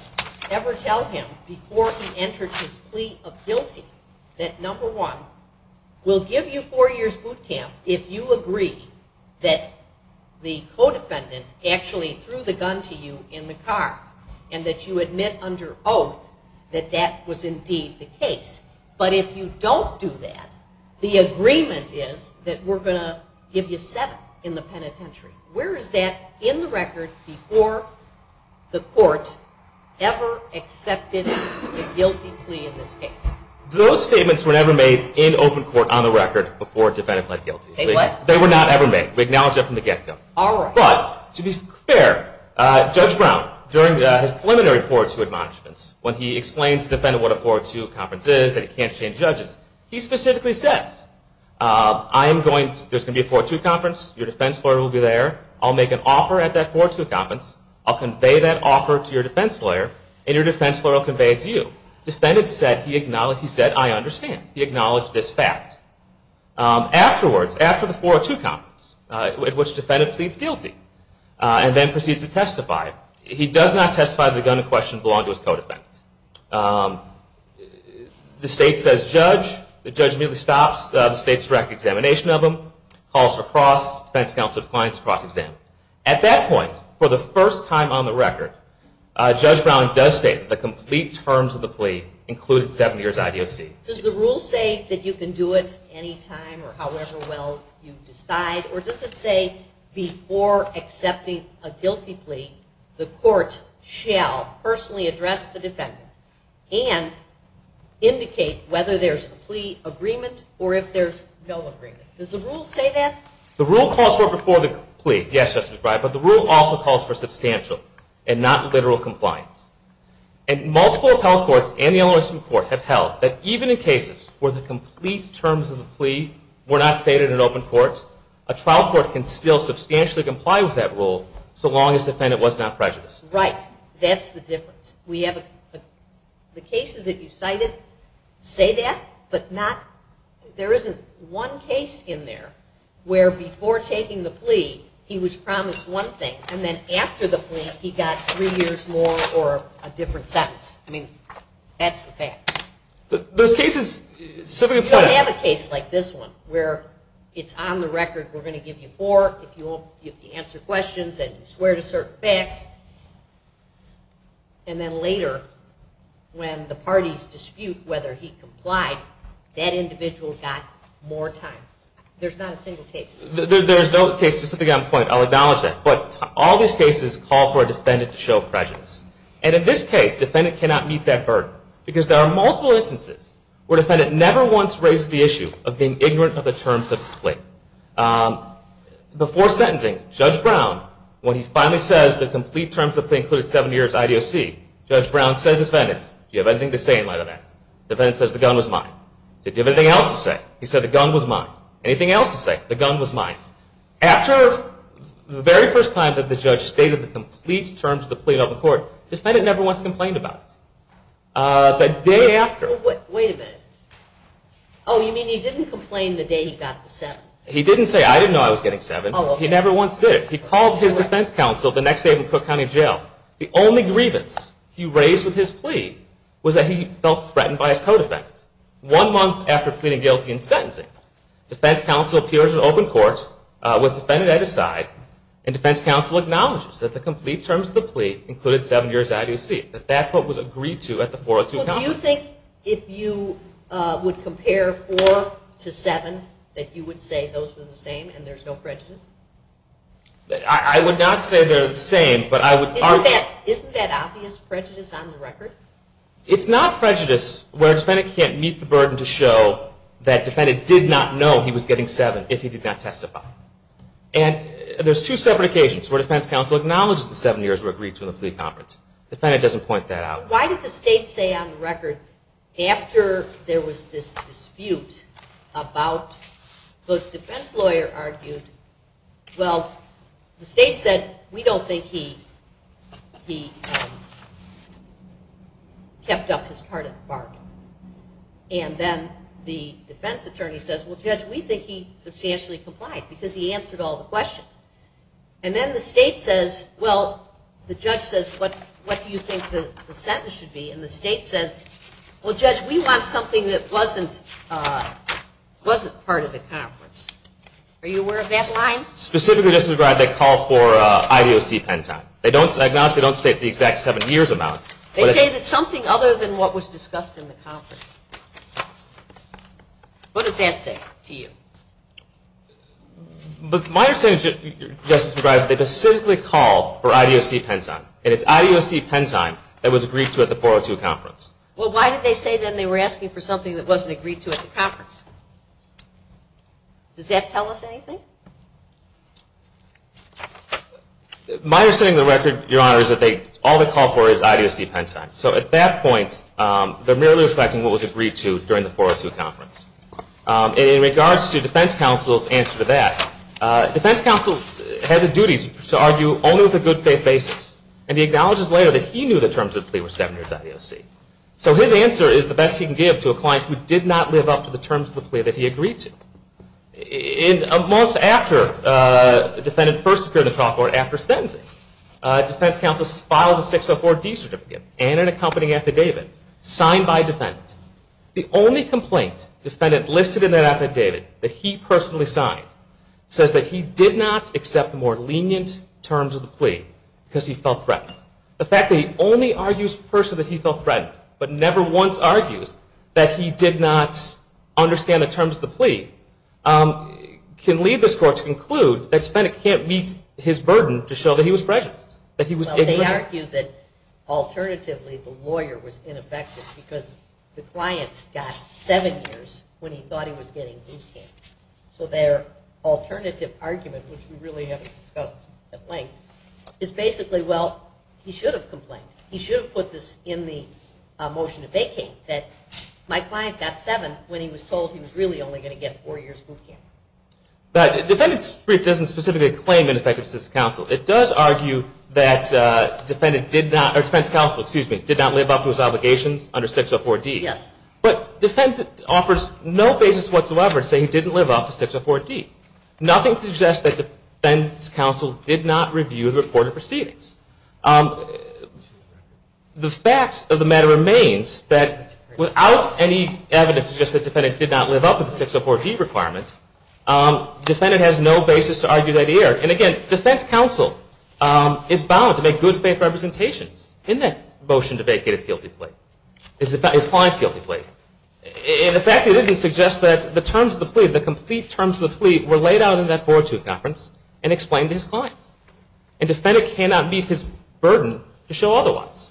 ever tell him, before he entered his plea of guilty that, number one, we'll give you four years boot camp if you agree that the co-defendant actually threw the gun to you in the car and that you admit under oath that that was indeed the case? But if you don't do that, the agreement is that we're going to give you seven in the penitentiary. Where is that in the record before the Court ever accepted a guilty plea in this case? Those statements were never made in open court on the record before a defendant pled guilty. They were not ever made. We acknowledge that from the get-go. All right. But, to be fair, Judge Brown, during his preliminary 402 admonishments, when he explains to the defendant what a 402 conference is, that he can't change judges, he specifically says, there's going to be a 402 conference, your defense lawyer will be there, I'll make an offer at that 402 conference, I'll convey that offer to your defense lawyer, and your defense lawyer will convey it to you. The defendant said, he said, I understand. He acknowledged this fact. Afterwards, after the 402 conference, at which the defendant pleads guilty and then proceeds to testify, he does not testify that the gun in question belonged to his co-defendant. The state says, judge, the judge immediately stops the state's direct examination of him, calls for cross, defense counsel declines the cross-examination. At that point, for the first time on the record, Judge Brown does state that the complete terms of the plea included 70 years IDOC. Does the rule say that you can do it any time or however well you decide, or does it say, before accepting a guilty plea, the court shall personally address the defendant and indicate whether there's a plea agreement or if there's no agreement? Does the rule say that? The rule calls for it before the plea, yes, Justice Breyer, but the rule also calls for substantial and not literal compliance. And multiple appellate courts and the Illinois Supreme Court have held that even in cases where the complete terms of the plea were not stated in open court, a trial court can still substantially comply with that rule so long as the defendant was not prejudiced. Right. That's the difference. The cases that you cited say that, but there isn't one case in there where before taking the plea, he was promised one thing, and then after the plea, he got three years more or a different sentence. I mean, that's the fact. Those cases, so if you have a case like this one, where it's on the record we're going to give you four, if you answer questions and you swear to certain facts, and then later when the parties dispute whether he complied, that individual got more time. There's not a single case. There's no case specifically on point. I'll acknowledge that. But all these cases call for a defendant to show prejudice. And in this case, defendant cannot meet that burden because there are multiple instances where defendant never once raises the issue of being ignorant of the terms of his plea. Before sentencing, Judge Brown, when he finally says Judge Brown says to the defendant, Do you have anything to say in light of that? The defendant says the gun was mine. Did you have anything else to say? He said the gun was mine. Anything else to say? The gun was mine. After the very first time that the judge stated the complete terms of the plea in open court, defendant never once complained about it. The day after. Wait a minute. Oh, you mean he didn't complain the day he got the seven? He didn't say, I didn't know I was getting seven. He never once did. He called his defense counsel the next day from Cook County Jail. The only grievance he raised with his plea was that he felt threatened by his co-defendant. One month after pleading guilty in sentencing, defense counsel appears in open court with defendant at his side and defense counsel acknowledges that the complete terms of the plea included seven years out of his seat. That's what was agreed to at the 402 counsel. Do you think if you would compare four to seven that you would say those are the same and there's no prejudice? I would not say they're the same, but I would argue Isn't that obvious prejudice on the record? It's not prejudice where a defendant can't meet the burden to show that defendant did not know he was getting seven if he did not testify. And there's two separate occasions where defense counsel acknowledges the seven years were agreed to in the plea conference. Defendant doesn't point that out. Why did the state say on the record after there was this dispute about the defense lawyer argued, well, the state said we don't think he kept up his part of the bargain. And then the defense attorney says, well, Judge, we think he substantially complied because he answered all the questions. And then the state says, well, the judge says, what do you think the sentence should be? And the state says, well, Judge, we want something that wasn't part of the conference. Are you aware of that line? Specifically, Justice McGrath, they call for IDOC pen time. I acknowledge they don't state the exact seven years amount. They say that's something other than what was discussed in the conference. What does that say to you? My understanding, Justice McGrath, is they specifically call for IDOC pen time, and it's IDOC pen time that was agreed to at the 402 conference. Well, why did they say then they were asking for something that wasn't agreed to at the conference? Does that tell us anything? My understanding of the record, Your Honor, is that all they call for is IDOC pen time. So at that point, they're merely reflecting what was agreed to during the 402 conference. In regards to defense counsel's answer to that, defense counsel has a duty to argue only with a good faith basis. And he acknowledges later that he knew the terms of the plea were seven years IDOC. So his answer is the best he can give to a client who did not live up to the terms of the plea that he agreed to. In a month after the defendant first appeared in the trial court, after sentencing, defense counsel files a 604-D certificate and an accompanying affidavit signed by a defendant. The only complaint the defendant listed in that affidavit that he personally signed says that he did not accept the more lenient terms of the plea because he felt threatened. The fact that he only argues for the person that he felt threatened but never once argues that he did not understand the terms of the plea can lead this court to conclude that the defendant can't meet his burden to show that he was prejudiced, that he was ignorant. Well, they argue that alternatively the lawyer was ineffective because the client got seven years when he thought he was getting boot camp. So their alternative argument, which we really haven't discussed at length, is basically, well, he should have complained. He should have put this in the motion to vacate, that my client got seven when he was told he was really only going to get four years' boot camp. The defendant's brief doesn't specifically claim ineffective assistance counsel. It does argue that defense counsel did not live up to his obligations under 604-D. Yes. But defense offers no basis whatsoever to say he didn't live up to 604-D. Nothing suggests that defense counsel did not review the reported proceedings. The fact of the matter remains that without any evidence to suggest that the defendant did not live up to the 604-D requirement, the defendant has no basis to argue that he erred. And again, defense counsel is bound to make good faith representations in that motion to vacate his guilty plea, his client's guilty plea. And the fact that it didn't suggest that the terms of the plea, the complete terms of the plea were laid out in that 4-2 conference and explained to his client. And defendant cannot meet his burden to show otherwise.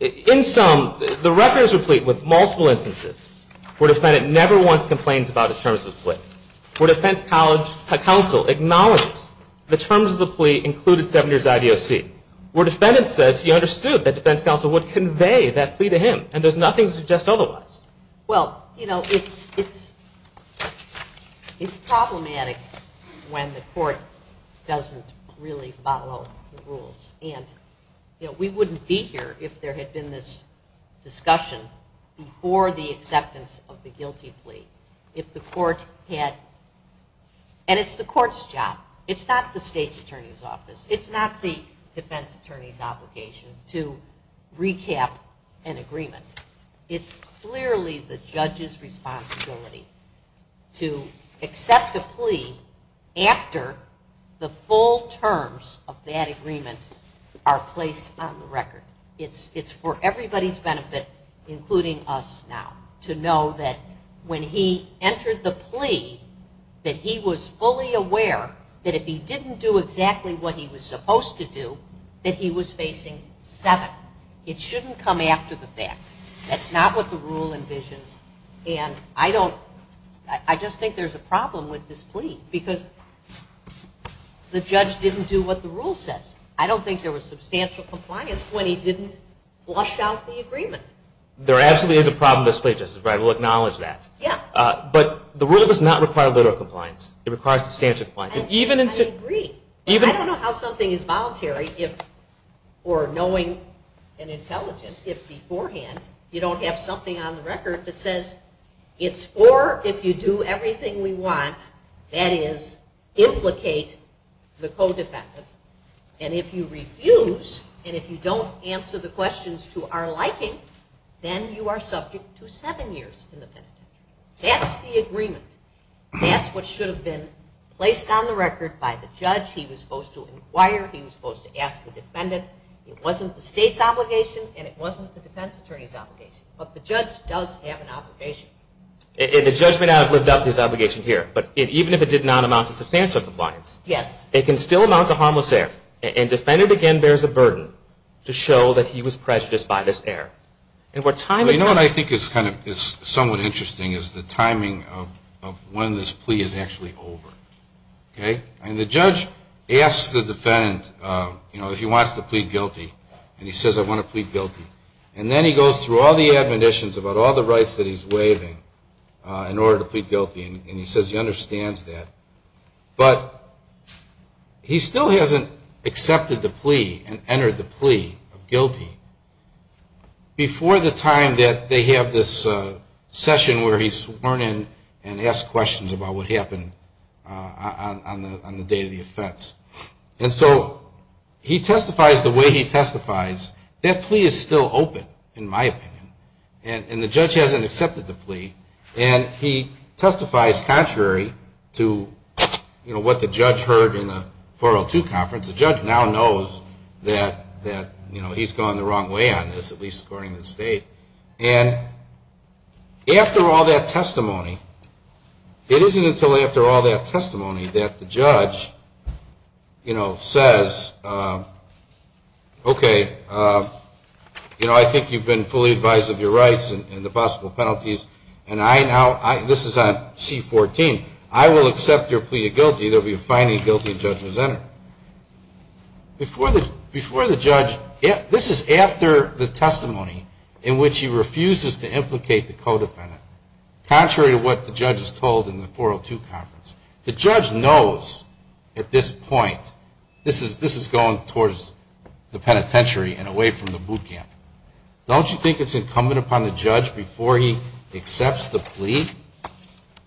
In sum, the record is replete with multiple instances where defendant never once complains about the terms of the plea, where defense counsel acknowledges the terms of the plea included seven years' IDOC, where defendant says he understood that defense counsel would convey that plea to him and does nothing to suggest otherwise. Well, you know, it's problematic when the court doesn't really follow the rules. And, you know, we wouldn't be here if there had been this discussion before the acceptance of the guilty plea if the court had. And it's the court's job. It's not the state's attorney's office. It's not the defense attorney's obligation to recap an agreement. It's clearly the judge's responsibility to accept a plea after the full terms of that agreement are placed on the record. It's for everybody's benefit, including us now, to know that when he entered the plea that he was fully aware that if he didn't do exactly what he was supposed to do, that he was facing seven. It shouldn't come after the fact. That's not what the rule envisions. And I just think there's a problem with this plea because the judge didn't do what the rule says. I don't think there was substantial compliance when he didn't flush out the agreement. There absolutely is a problem with this plea, Justice Breyer. We'll acknowledge that. Yeah. But the rule does not require literal compliance. It requires substantial compliance. I agree. And I don't know how something is voluntary or knowing and intelligent if beforehand you don't have something on the record that says it's for if you do everything we want, that is, implicate the co-defendant. And if you refuse and if you don't answer the questions to our liking, then you are subject to seven years in the penitentiary. That's the agreement. That's what should have been placed on the record by the judge. He was supposed to inquire. He was supposed to ask the defendant. It wasn't the state's obligation, and it wasn't the defense attorney's obligation. But the judge does have an obligation. And the judge may not have lived up to his obligation here, but even if it did not amount to substantial compliance, it can still amount to harmless error. And defendant, again, bears a burden to show that he was prejudiced by this error. You know what I think is somewhat interesting is the timing of when this plea is actually over. And the judge asks the defendant if he wants to plead guilty. And he says, I want to plead guilty. And then he goes through all the admonitions about all the rights that he's waiving in order to plead guilty, and he says he understands that. But he still hasn't accepted the plea and entered the plea of guilty before the time that they have this session where he's sworn in and asked questions about what happened on the day of the offense. And so he testifies the way he testifies. That plea is still open, in my opinion, and the judge hasn't accepted the plea. And he testifies contrary to what the judge heard in the 402 conference. The judge now knows that he's gone the wrong way on this, at least according to the state. And after all that testimony, it isn't until after all that testimony that the judge says, okay, you know, I think you've been fully advised of your rights and the possible penalties, and I now, this is on C-14, I will accept your plea of guilty. There will be a fine and a guilty if the judge was entered. Before the judge, this is after the testimony in which he refuses to implicate the co-defendant, contrary to what the judge is told in the 402 conference. The judge knows at this point, this is going towards the penitentiary and away from the boot camp. Don't you think it's incumbent upon the judge before he accepts the plea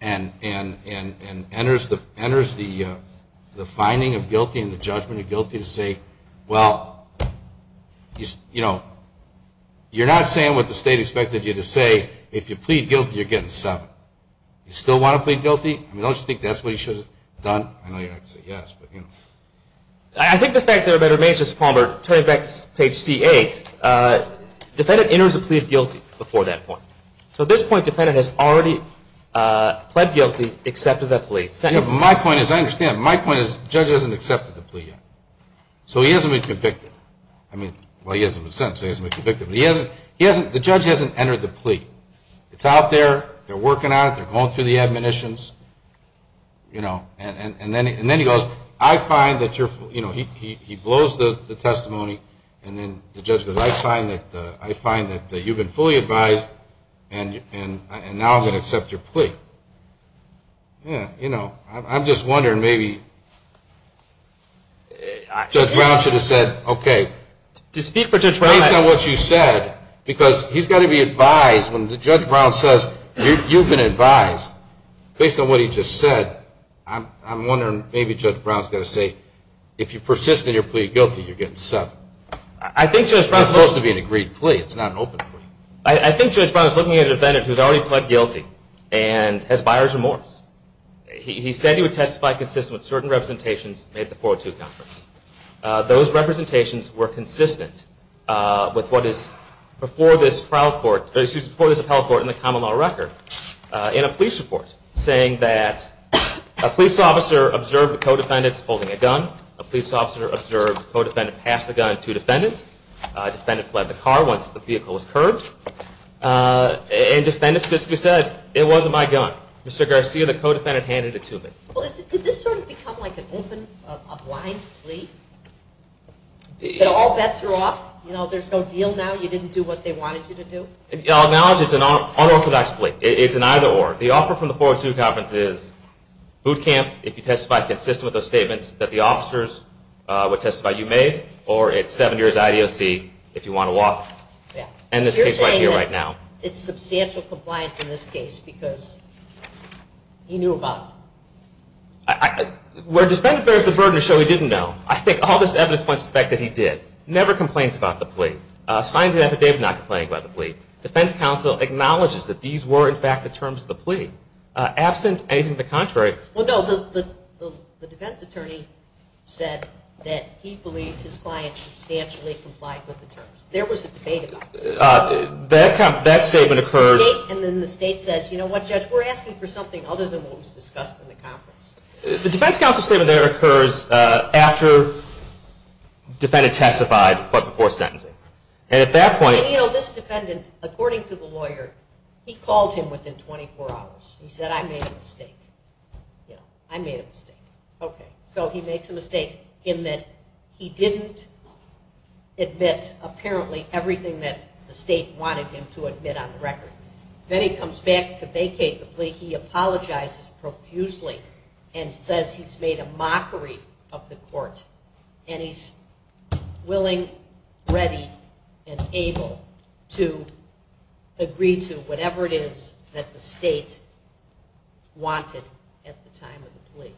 and enters the finding of guilty and the judgment of guilty to say, well, you know, you're not saying what the state expected you to say. If you plead guilty, you're getting seven. You still want to plead guilty? I mean, don't you think that's what he should have done? I know you're going to say yes, but, you know. I think the fact that it remains just Palmer, turning back to page C-8, defendant enters a plea of guilty before that point. So at this point, defendant has already pled guilty, accepted that plea. My point is, I understand, my point is the judge hasn't accepted the plea yet. So he hasn't been convicted. I mean, well, he hasn't been sentenced, so he hasn't been convicted. But he hasn't, the judge hasn't entered the plea. It's out there. They're working on it. They're going through the admonitions, you know. And then he goes, I find that you're, you know, he blows the testimony. And then the judge goes, I find that you've been fully advised, and now I'm going to accept your plea. Yeah, you know, I'm just wondering maybe Judge Brown should have said, okay. Based on what you said, because he's got to be advised. When Judge Brown says, you've been advised, based on what he just said, I'm wondering maybe Judge Brown's got to say, if you persist in your plea of guilty, you're getting subbed. It's supposed to be an agreed plea. It's not an open plea. I think Judge Brown is looking at a defendant who's already pled guilty and has buyer's remorse. He said he would testify consistent with certain representations made at the 402 conference. Those representations were consistent with what is before this appellate court in the common law record in a police report, saying that a police officer observed the co-defendants holding a gun. A police officer observed the co-defendant pass the gun to a defendant. A defendant fled the car once the vehicle was curbed. And defendants specifically said, it wasn't my gun. Mr. Garcia, the co-defendant, handed it to him. Well, did this sort of become like an open, a blind plea? That all bets are off? You know, there's no deal now? You didn't do what they wanted you to do? I'll acknowledge it's an unorthodox plea. It's an either or. The offer from the 402 conference is boot camp if you testify consistent with those statements that the officers would testify you made, or it's seven years IDOC if you want to walk. And this case right here, right now. It's substantial compliance in this case because he knew about it. Where a defendant bears the burden to show he didn't know, I think all this evidence points to the fact that he did. Never complains about the plea. Signs the affidavit not complaining about the plea. Defense counsel acknowledges that these were, in fact, the terms of the plea. Absent anything to the contrary. Well, no. The defense attorney said that he believed his client substantially complied with the terms. There was a debate about that. That statement occurs. And then the state says, you know what, judge, we're asking for something other than what was discussed in the conference. The defense counsel statement there occurs after the defendant testified but before sentencing. And at that point. And you know, this defendant, according to the lawyer, he called him within 24 hours. He said, I made a mistake. I made a mistake. Okay. So he makes a mistake in that he didn't admit apparently everything that the state wanted him to admit on the record. Then he comes back to vacate the plea. He apologizes profusely and says he's made a mockery of the court. And he's willing, ready, and able to agree to whatever it is that the state wanted at the time of the plea.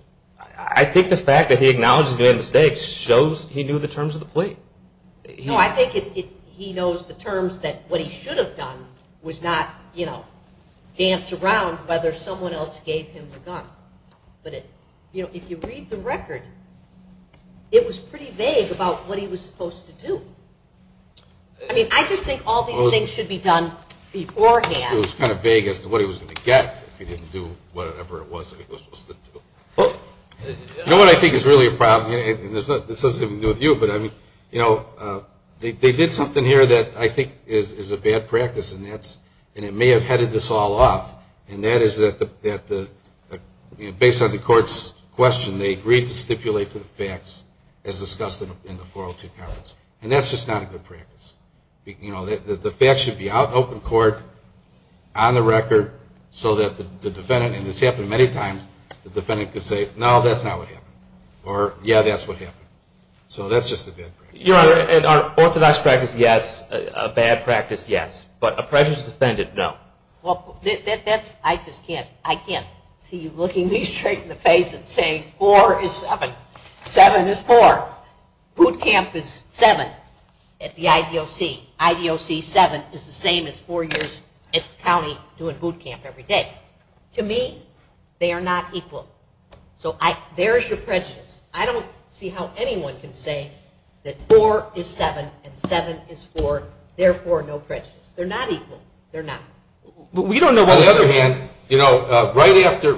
I think the fact that he acknowledges he made a mistake shows he knew the terms of the plea. No, I think he knows the terms that what he should have done was not, you know, dance around whether someone else gave him the gun. But, you know, if you read the record, it was pretty vague about what he was supposed to do. I mean, I just think all these things should be done beforehand. It was kind of vague as to what he was going to get if he didn't do whatever it was that he was supposed to do. You know what I think is really a problem, and this has nothing to do with you, but I mean, you know, they did something here that I think is a bad practice, and it may have headed this all off. And that is that based on the court's question, they agreed to stipulate the facts as discussed in the 402 conference. And that's just not a good practice. You know, the facts should be out in open court, on the record, so that the defendant, and it's happened many times, the defendant could say, no, that's not what happened. Or, yeah, that's what happened. So that's just a bad practice. Your Honor, an orthodox practice, yes. A bad practice, yes. But a prejudice defendant, no. Well, that's, I just can't, I can't see you looking me straight in the face and saying four is seven. Seven is four. Boot camp is seven at the IDOC. IDOC seven is the same as four years at the county doing boot camp every day. To me, they are not equal. So there's your prejudice. I don't see how anyone can say that four is seven and seven is four, therefore no prejudice. They're not equal. They're not. On the other hand, you know, right after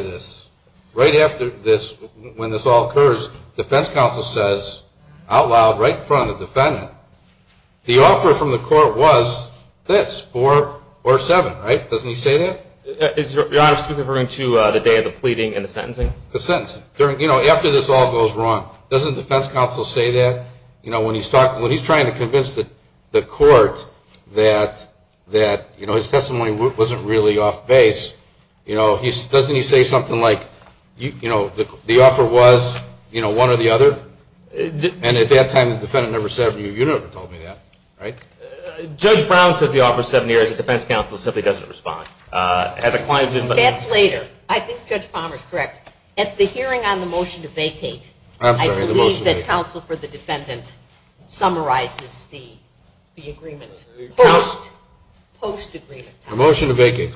this, right after this, when this all occurs, defense counsel says out loud right in front of the defendant, the offer from the court was this, four or seven. Right? Doesn't he say that? Your Honor, speaking referring to the day of the pleading and the sentencing? The sentencing. You know, after this all goes wrong, doesn't defense counsel say that? You know, when he's trying to convince the court that, you know, his testimony wasn't really off base, you know, doesn't he say something like, you know, the offer was, you know, one or the other? And at that time the defendant never said it to you. You never told me that. Right? Judge Brown says the offer is seven years. Defense counsel simply doesn't respond. That's later. I think Judge Palmer is correct. At the hearing on the motion to vacate. I'm sorry, the motion to vacate. I believe that counsel for the defendant summarizes the agreement post-agreement time. The motion to vacate.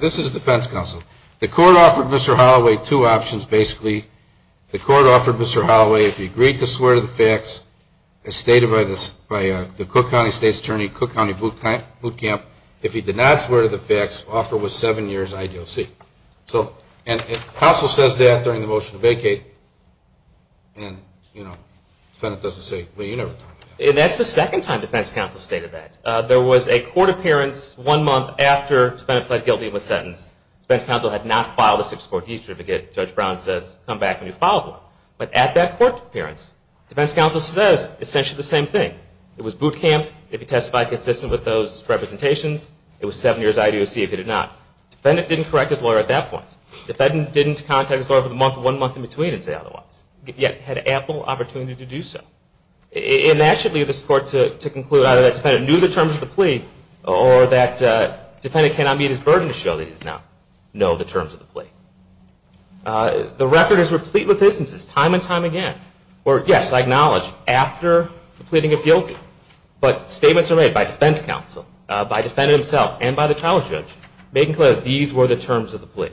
This is defense counsel. The court offered Mr. Holloway two options basically. The court offered Mr. Holloway if he agreed to swear to the facts as stated by the Cook County State's Attorney, Cook County Boot Camp, if he did not swear to the facts, offer was seven years I.D.O.C. And counsel says that during the motion to vacate and, you know, the defendant doesn't say it. Well, you never told me that. And that's the second time defense counsel stated that. There was a court appearance one month after the defendant pled guilty of a sentence. Defense counsel had not filed a six-court distribution. Judge Brown says come back when you've filed one. But at that court appearance, defense counsel says essentially the same thing. It was boot camp if he testified consistent with those representations. It was seven years I.D.O.C. if he did not. Defendant didn't correct his lawyer at that point. Defendant didn't contact his lawyer for the month or one month in between and say otherwise, yet had ample opportunity to do so. And that should lead this court to conclude either that defendant knew the terms of the plea or that defendant cannot meet his burden to show that he does not know the terms of the plea. The record is replete with instances time and time again where, yes, I acknowledge after the pleading of guilty, but statements are made by defense counsel, by defendant himself, and by the trial judge making clear that these were the terms of the plea.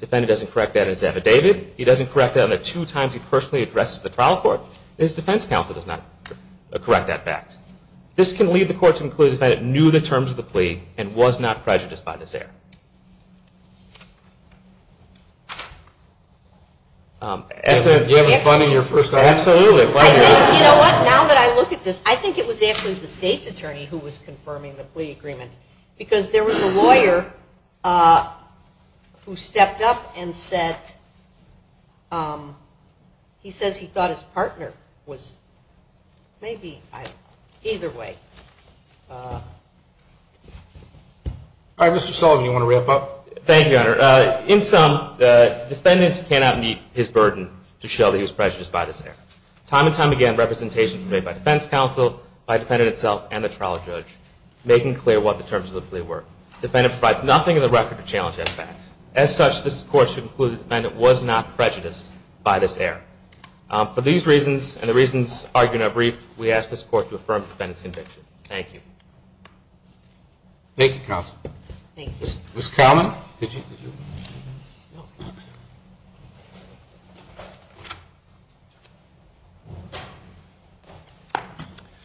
Defendant doesn't correct that in his affidavit. He doesn't correct that on the two times he personally addressed the trial court. His defense counsel does not correct that fact. This can lead the court to conclude that defendant knew the terms of the plea and was not prejudiced by this error. As I said, did you have fun in your first night? Absolutely. You know what? Now that I look at this, I think it was actually the state's attorney who was confirming the plea agreement because there was a lawyer who stepped up and said he says he thought his partner was maybe either way. All right, Mr. Sullivan, do you want to wrap up? Thank you, Your Honor. In sum, defendant cannot meet his burden to show that he was prejudiced by this error. Time and time again, representations are made by defense counsel, by defendant itself, and the trial judge making clear what the terms of the plea were. Defendant provides nothing in the record to challenge that fact. As such, this court should conclude that defendant was not prejudiced by this error. For these reasons and the reasons argued in our brief, we ask this court to affirm defendant's conviction. Thank you. Thank you, counsel. Thank you. Ms. Cowlin, did you?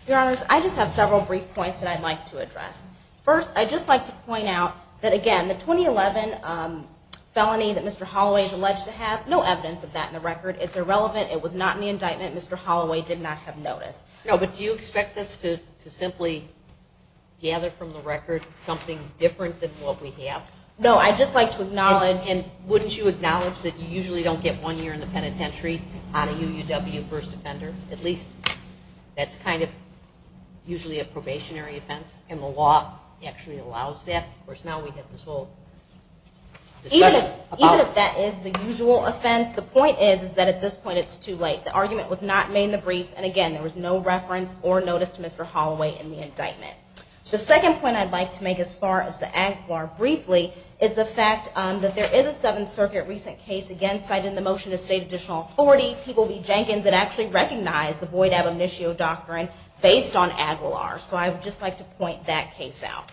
Your Honors, I just have several brief points that I'd like to address. First, I'd just like to point out that, again, the 2011 felony that Mr. Holloway is alleged to have, no evidence of that in the record. It's irrelevant. It was not in the indictment. Mr. Holloway did not have notice. No, but do you expect us to simply gather from the record something different than what we have? No. I'd just like to acknowledge. And wouldn't you acknowledge that you usually don't get one year in the penitentiary on a UUW first offender? At least that's kind of usually a probationary offense, and the law actually allows that. Of course, now we have this whole discussion about. Even if that is the usual offense, the point is that at this point it's too late. The argument was not made in the briefs. And, again, there was no reference or notice to Mr. Holloway in the indictment. The second point I'd like to make as far as the Aguilar briefly is the fact that there is a Seventh Circuit recent case again cited in the motion to state additional authority. People v. Jenkins. It actually recognized the Boyd-Abam-Nishio doctrine based on Aguilar. So I would just like to point that case out.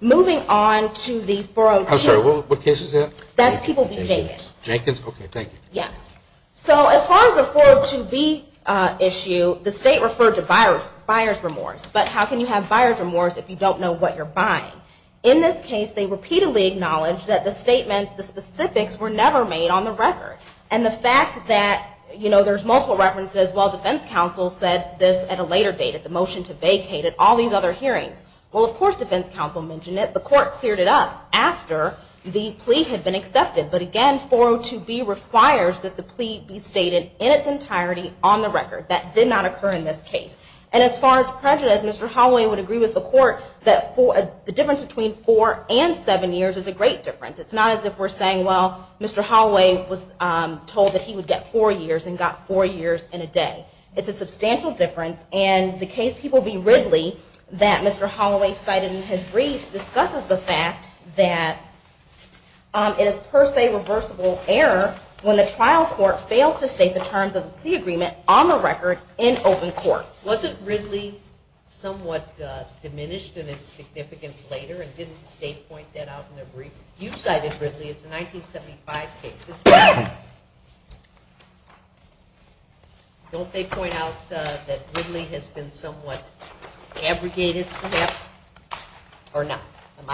Moving on to the 402. I'm sorry. What case is that? That's People v. Jenkins. Jenkins? Okay, thank you. Yes. So as far as the 402B issue, the state referred to buyer's remorse. But how can you have buyer's remorse if you don't know what you're buying? In this case, they repeatedly acknowledged that the statements, the specifics, were never made on the record. And the fact that there's multiple references, well, defense counsel said this at a later date, at the motion to vacate, at all these other hearings. Well, of course defense counsel mentioned it. The court cleared it up after the plea had been accepted. But, again, 402B requires that the plea be stated in its entirety on the record. That did not occur in this case. And as far as prejudice, Mr. Holloway would agree with the court that the difference between four and seven years is a great difference. It's not as if we're saying, well, Mr. Holloway was told that he would get four years and got four years in a day. It's a substantial difference. And the case, People v. Ridley, that Mr. Holloway cited in his briefs, discusses the fact that it is per se reversible error when the trial court fails to state the terms of the plea agreement on the record in open court. Wasn't Ridley somewhat diminished in its significance later and didn't the state point that out in their brief? You cited Ridley. It's a 1975 case. Don't they point out that Ridley has been somewhat abrogated perhaps or not? Am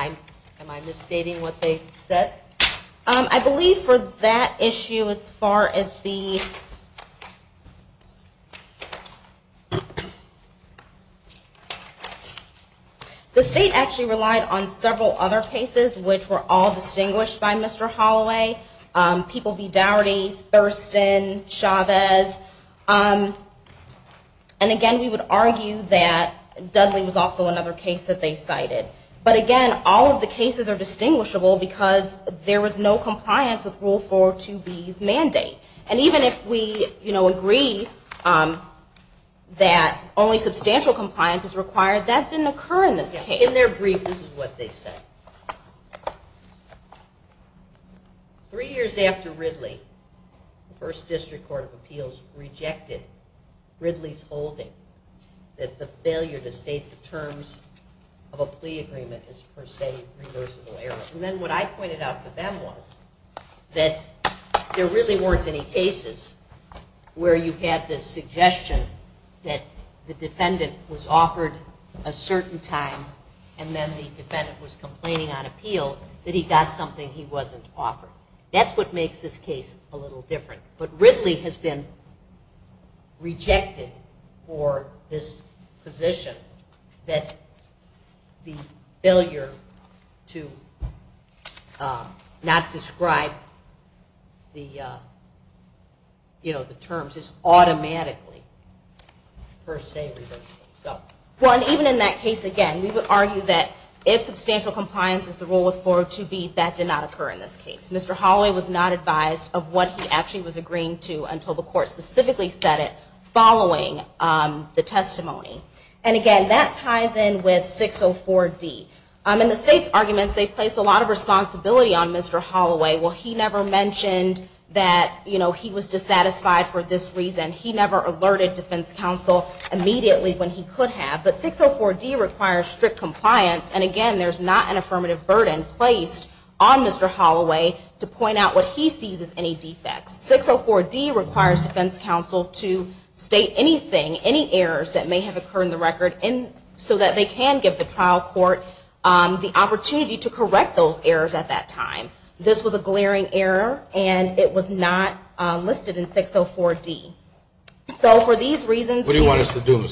I misstating what they said? I believe for that issue as far as the state actually relied on several other cases, which were all distinguished by Mr. Holloway, People v. Dougherty, Thurston, Chavez. And again, we would argue that Dudley was also another case that they cited. But again, all of the cases are distinguishable because there was no compliance with Rule 402B's mandate. And even if we agree that only substantial compliance is required, that didn't occur in this case. In their brief, this is what they said. Three years after Ridley, the First District Court of Appeals rejected Ridley's holding that the failure to state the terms of a plea agreement is per se reversible error. And then what I pointed out to them was that there really weren't any cases where you had the suggestion that the defendant was offered a certain time and then the defendant was complaining on appeal, that he got something he wasn't offered. That's what makes this case a little different. But Ridley has been rejected for this position that the failure to not describe the terms is automatically per se reversible. Even in that case, again, we would argue that if substantial compliance is the rule with 402B, that did not occur in this case. Mr. Holloway was not advised of what he actually was agreeing to until the court specifically said it following the testimony. And again, that ties in with 604D. In the state's arguments, they place a lot of responsibility on Mr. Holloway. Well, he never mentioned that, you know, he was dissatisfied for this reason. He never alerted defense counsel immediately when he could have. But 604D requires strict compliance. And again, there's not an affirmative burden placed on Mr. Holloway to point out what he sees as any defects. 604D requires defense counsel to state anything, any errors that may have occurred in the record so that they can give the trial court the opportunity to correct those errors at that time. This was a glaring error, and it was not listed in 604D. So for these reasons, we would argue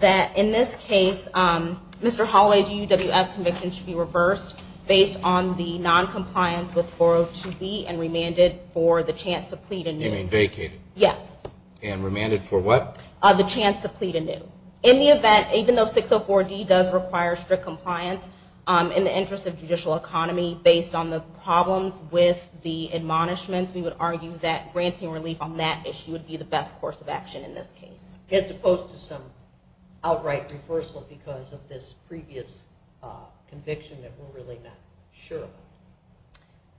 that in this case, Mr. Holloway's UWF conviction should be reversed based on the noncompliance with 402B and remanded for the chance to plead anew. You mean vacated? Yes. And remanded for what? The chance to plead anew. In the event, even though 604D does require strict compliance, in the interest of judicial economy, based on the problems with the admonishments, we would argue that granting relief on that issue would be the best course of action in this case. As opposed to some outright reversal because of this previous conviction that we're really not sure of.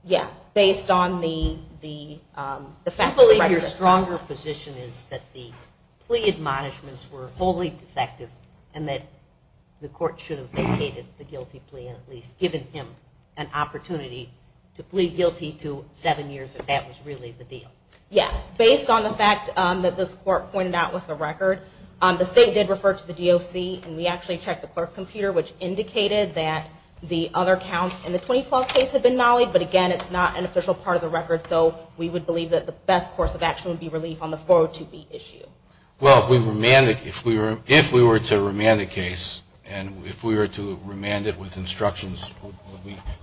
Yes, based on the fact of the record. I believe your stronger position is that the plea admonishments were wholly defective and that the court should have vacated the guilty plea and at least given him an opportunity to plead guilty to seven years if that was really the deal. Yes. Based on the fact that this court pointed out with the record, the state did refer to the DOC and we actually checked the clerk's computer which indicated that the other counts in the 2012 case had been mollied, but again it's not an official part of the record so we would believe that the best course of action would be relief on the 402B issue. Well, if we were to remand the case and if we were to remand it with instructions,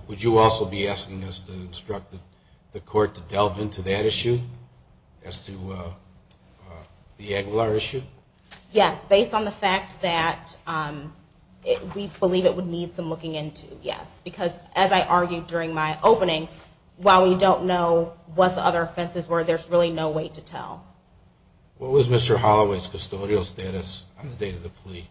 would you also be asking us to instruct the court to delve into that issue as to the Aguilar issue? Yes, based on the fact that we believe it would need some looking into, yes. Because as I argued during my opening, while we don't know what the other offenses were, there's really no way to tell. What was Mr. Holloway's custodial status on the date of the plea? Thank you.